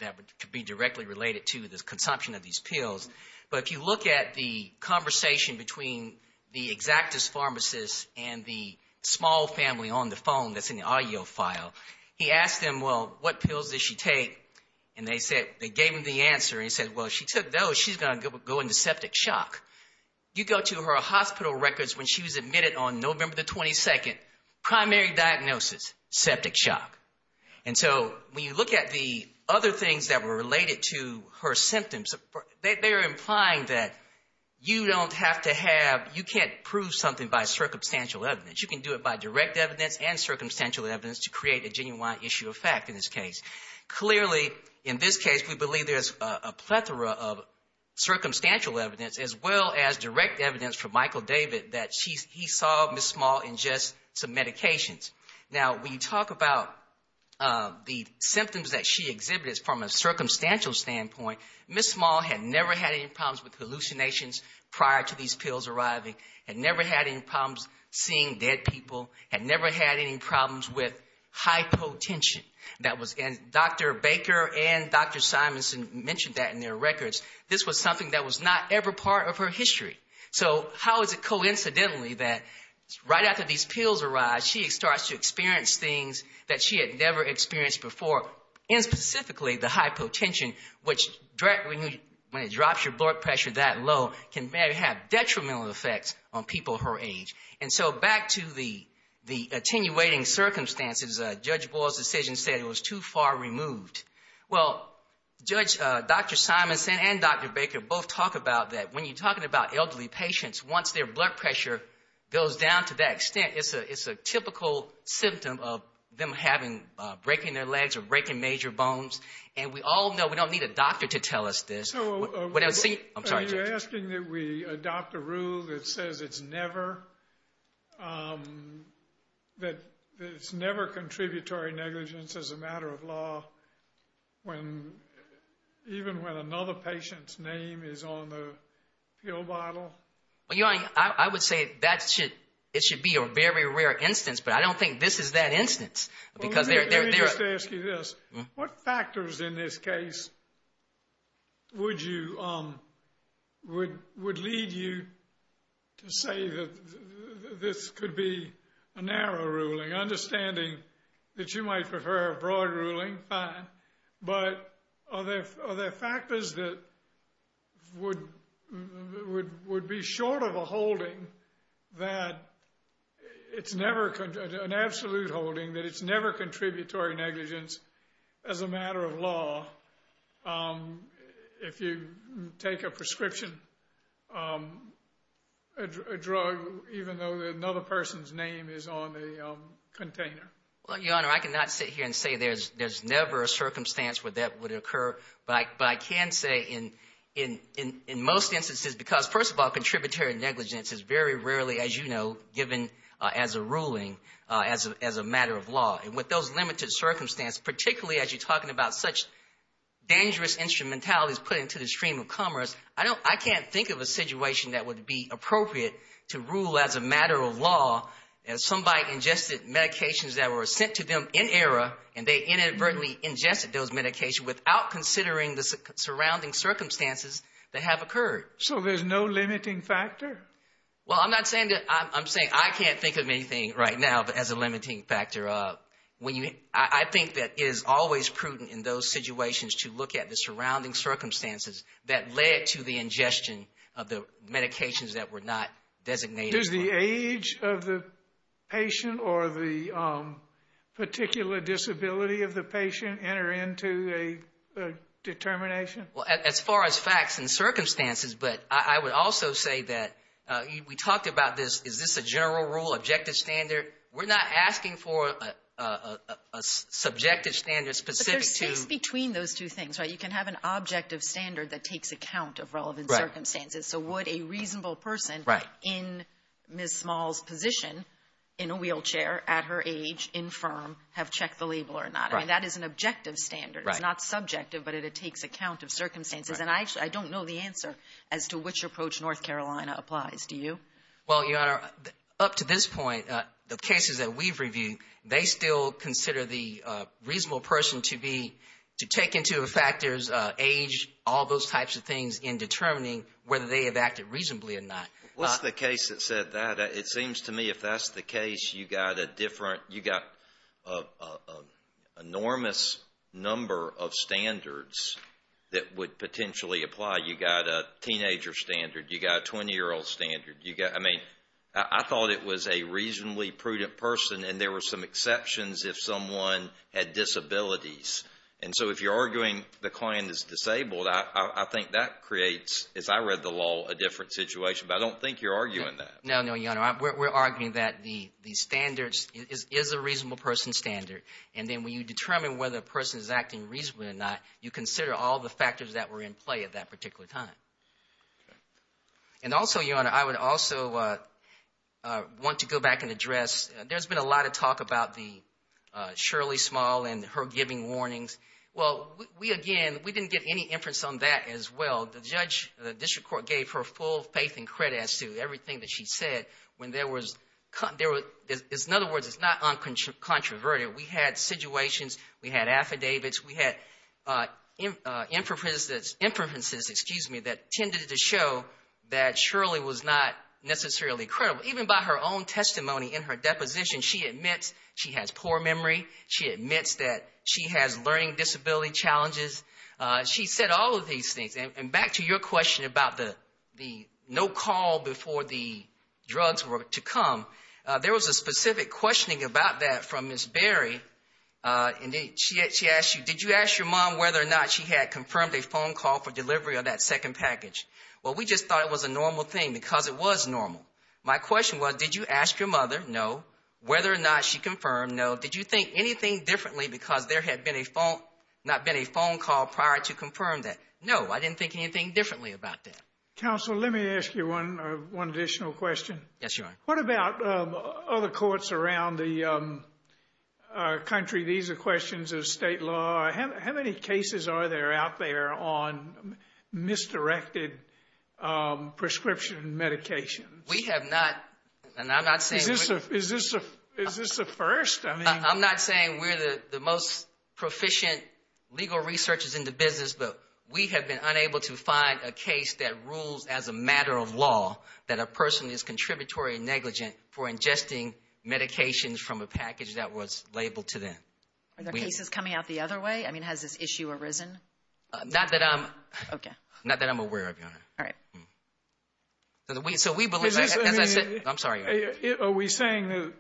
that could be directly related to the consumption of these pills. But if you look at the conversation between the exactus pharmacist and the small family on the phone that's in the audio file, he asked them, well, what pills did she take? And they gave him the answer. He said, well, if she took those, she's going to go into septic shock. You go to her hospital records when she was admitted on November the 22nd, primary diagnosis, septic shock. And so when you look at the other things that were related to her symptoms, they're implying that you don't have to have, you can't prove something by circumstantial evidence. You can do it by direct evidence and circumstantial evidence to create a genuine issue of fact in this case. Clearly, in this case, we believe there's a plethora of circumstantial evidence as well as direct evidence from Michael David that he saw Ms. Small ingest some medications. Now, when you talk about the symptoms that she exhibited from a circumstantial standpoint, Ms. Small had never had any problems with hallucinations prior to these pills arriving, had never had any problems seeing dead people, had never had any problems with hypotension. Dr. Baker and Dr. Simonson mentioned that in their records. This was something that was not ever part of her history. So how is it coincidentally that right after these pills arrived, she starts to experience things that she had never experienced before, and specifically the hypotension, which when it drops your blood pressure that low, can have detrimental effects on people her age. And so back to the attenuating circumstances, Judge Boyle's decision said it was too far removed. Well, Judge, Dr. Simonson and Dr. Baker both talk about that. When you're talking about elderly patients, once their blood pressure goes down to that extent, it's a typical symptom of them breaking their legs or breaking major bones. And we all know we don't need a doctor to tell us this. I'm sorry, Judge. You're asking that we adopt a rule that says it's never contributory negligence as a matter of law, even when another patient's name is on the pill bottle? Your Honor, I would say it should be a very rare instance, but I don't think this is that instance. Let me just ask you this. What factors in this case would lead you to say that this could be a narrow ruling? Understanding that you might prefer a broad ruling, fine. But are there factors that would be short of a holding that it's never an absolute holding, that it's never contributory negligence as a matter of law if you take a prescription drug, even though another person's name is on the container? Your Honor, I cannot sit here and say there's never a circumstance where that would occur. But I can say in most instances, because, first of all, contributory negligence is very rarely, as you know, given as a ruling, as a matter of law. And with those limited circumstances, particularly as you're talking about such dangerous instrumentalities put into the stream of commerce, I can't think of a situation that would be appropriate to rule as a matter of law if somebody ingested medications that were sent to them in error and they inadvertently ingested those medications without considering the surrounding circumstances that have occurred. So there's no limiting factor? Well, I'm saying I can't think of anything right now as a limiting factor. I think that it is always prudent in those situations to look at the surrounding circumstances that led to the ingestion of the medications that were not designated as law. Does the age of the patient or the particular disability of the patient enter into a determination? Well, as far as facts and circumstances, but I would also say that we talked about this. Is this a general rule, objective standard? We're not asking for a subjective standard specific to— You can have an objective standard that takes account of relevant circumstances. So would a reasonable person in Ms. Small's position, in a wheelchair, at her age, infirm, have checked the label or not? That is an objective standard. It's not subjective, but it takes account of circumstances. And I don't know the answer as to which approach North Carolina applies. Do you? Well, Your Honor, up to this point, the cases that we've reviewed, they still consider the reasonable person to be—to take into effect there's age, all those types of things in determining whether they have acted reasonably or not. What's the case that said that? It seems to me if that's the case, you got a different— you got an enormous number of standards that would potentially apply. You got a teenager standard. You got a 20-year-old standard. You got—I mean, I thought it was a reasonably prudent person, and there were some exceptions if someone had disabilities. And so if you're arguing the client is disabled, I think that creates, as I read the law, a different situation. But I don't think you're arguing that. No, no, Your Honor. We're arguing that the standards is a reasonable person standard. And then when you determine whether a person is acting reasonably or not, you consider all the factors that were in play at that particular time. And also, Your Honor, I would also want to go back and address— there's been a lot of talk about Shirley Small and her giving warnings. Well, we, again, we didn't get any inference on that as well. The judge, the district court, gave her full faith and credit as to everything that she said. When there was—in other words, it's not uncontroverted. We had situations. We had affidavits. We had inferences that tended to show that Shirley was not necessarily credible. Even by her own testimony in her deposition, she admits she has poor memory. She admits that she has learning disability challenges. She said all of these things. And back to your question about the no call before the drugs were to come, there was a specific questioning about that from Ms. Berry. She asked you, did you ask your mom whether or not she had confirmed a phone call for delivery of that second package? Well, we just thought it was a normal thing because it was normal. My question was, did you ask your mother? No. Whether or not she confirmed? No. Did you think anything differently because there had been a phone— not been a phone call prior to confirming that? No, I didn't think anything differently about that. Counsel, let me ask you one additional question. Yes, Your Honor. What about other courts around the country? These are questions of state law. How many cases are there out there on misdirected prescription medications? We have not, and I'm not saying— Is this a first? I'm not saying we're the most proficient legal researchers in the business, but we have been unable to find a case that rules as a matter of law, that a person is contributory and negligent for ingesting medications from a package that was labeled to them. Are there cases coming out the other way? I mean, has this issue arisen? Not that I'm— Okay. Not that I'm aware of, Your Honor. All right. So we believe— Is this— I'm sorry, Your Honor. Are we saying that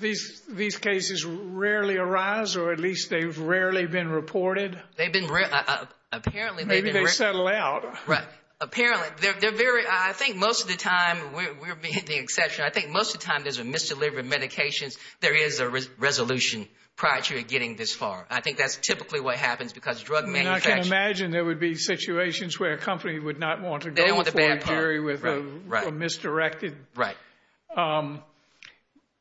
these cases rarely arise or at least they've rarely been reported? They've been—apparently they've been— Maybe they settle out. Right. Apparently. They're very—I think most of the time, we're being the exception, I think most of the time there's a misdelivered medication, there is a resolution prior to it getting this far. I think that's typically what happens because drug manufacturers— I can imagine there would be situations where a company would not want to go for a jury with a misdirected— Right.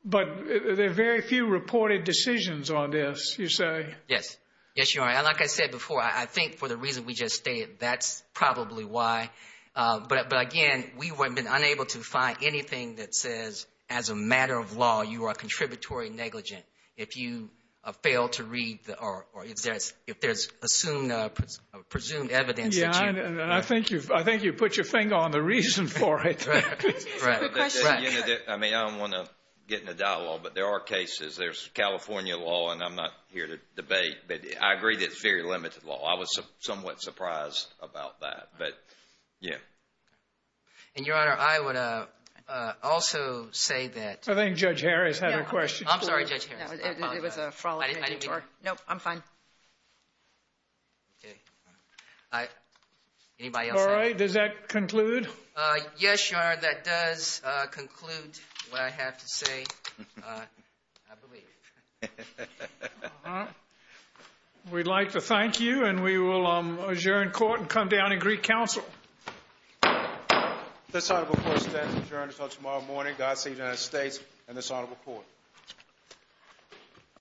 But there are very few reported decisions on this, you say? Yes. Yes, Your Honor. Like I said before, I think for the reason we just stated, that's probably why. But, again, we have been unable to find anything that says as a matter of law you are contributory negligent if you fail to read or if there's assumed evidence that you— Yeah, and I think you've put your finger on the reason for it. Right. Right. Good question. I mean, I don't want to get in a dialogue, but there are cases. There's California law, and I'm not here to debate. But I agree that it's very limited law. I was somewhat surprised about that. But, yeah. And, Your Honor, I would also say that— I think Judge Harris had a question. I'm sorry, Judge Harris. It was a fraudulent interview. I didn't mean to— No, I'm fine. Okay. Anybody else have— All right. Does that conclude? Yes, Your Honor, that does conclude what I have to say, I believe. All right. We'd like to thank you, and we will adjourn court and come down and greet counsel. This honorable court stands adjourned until tomorrow morning. God save the United States and this honorable court.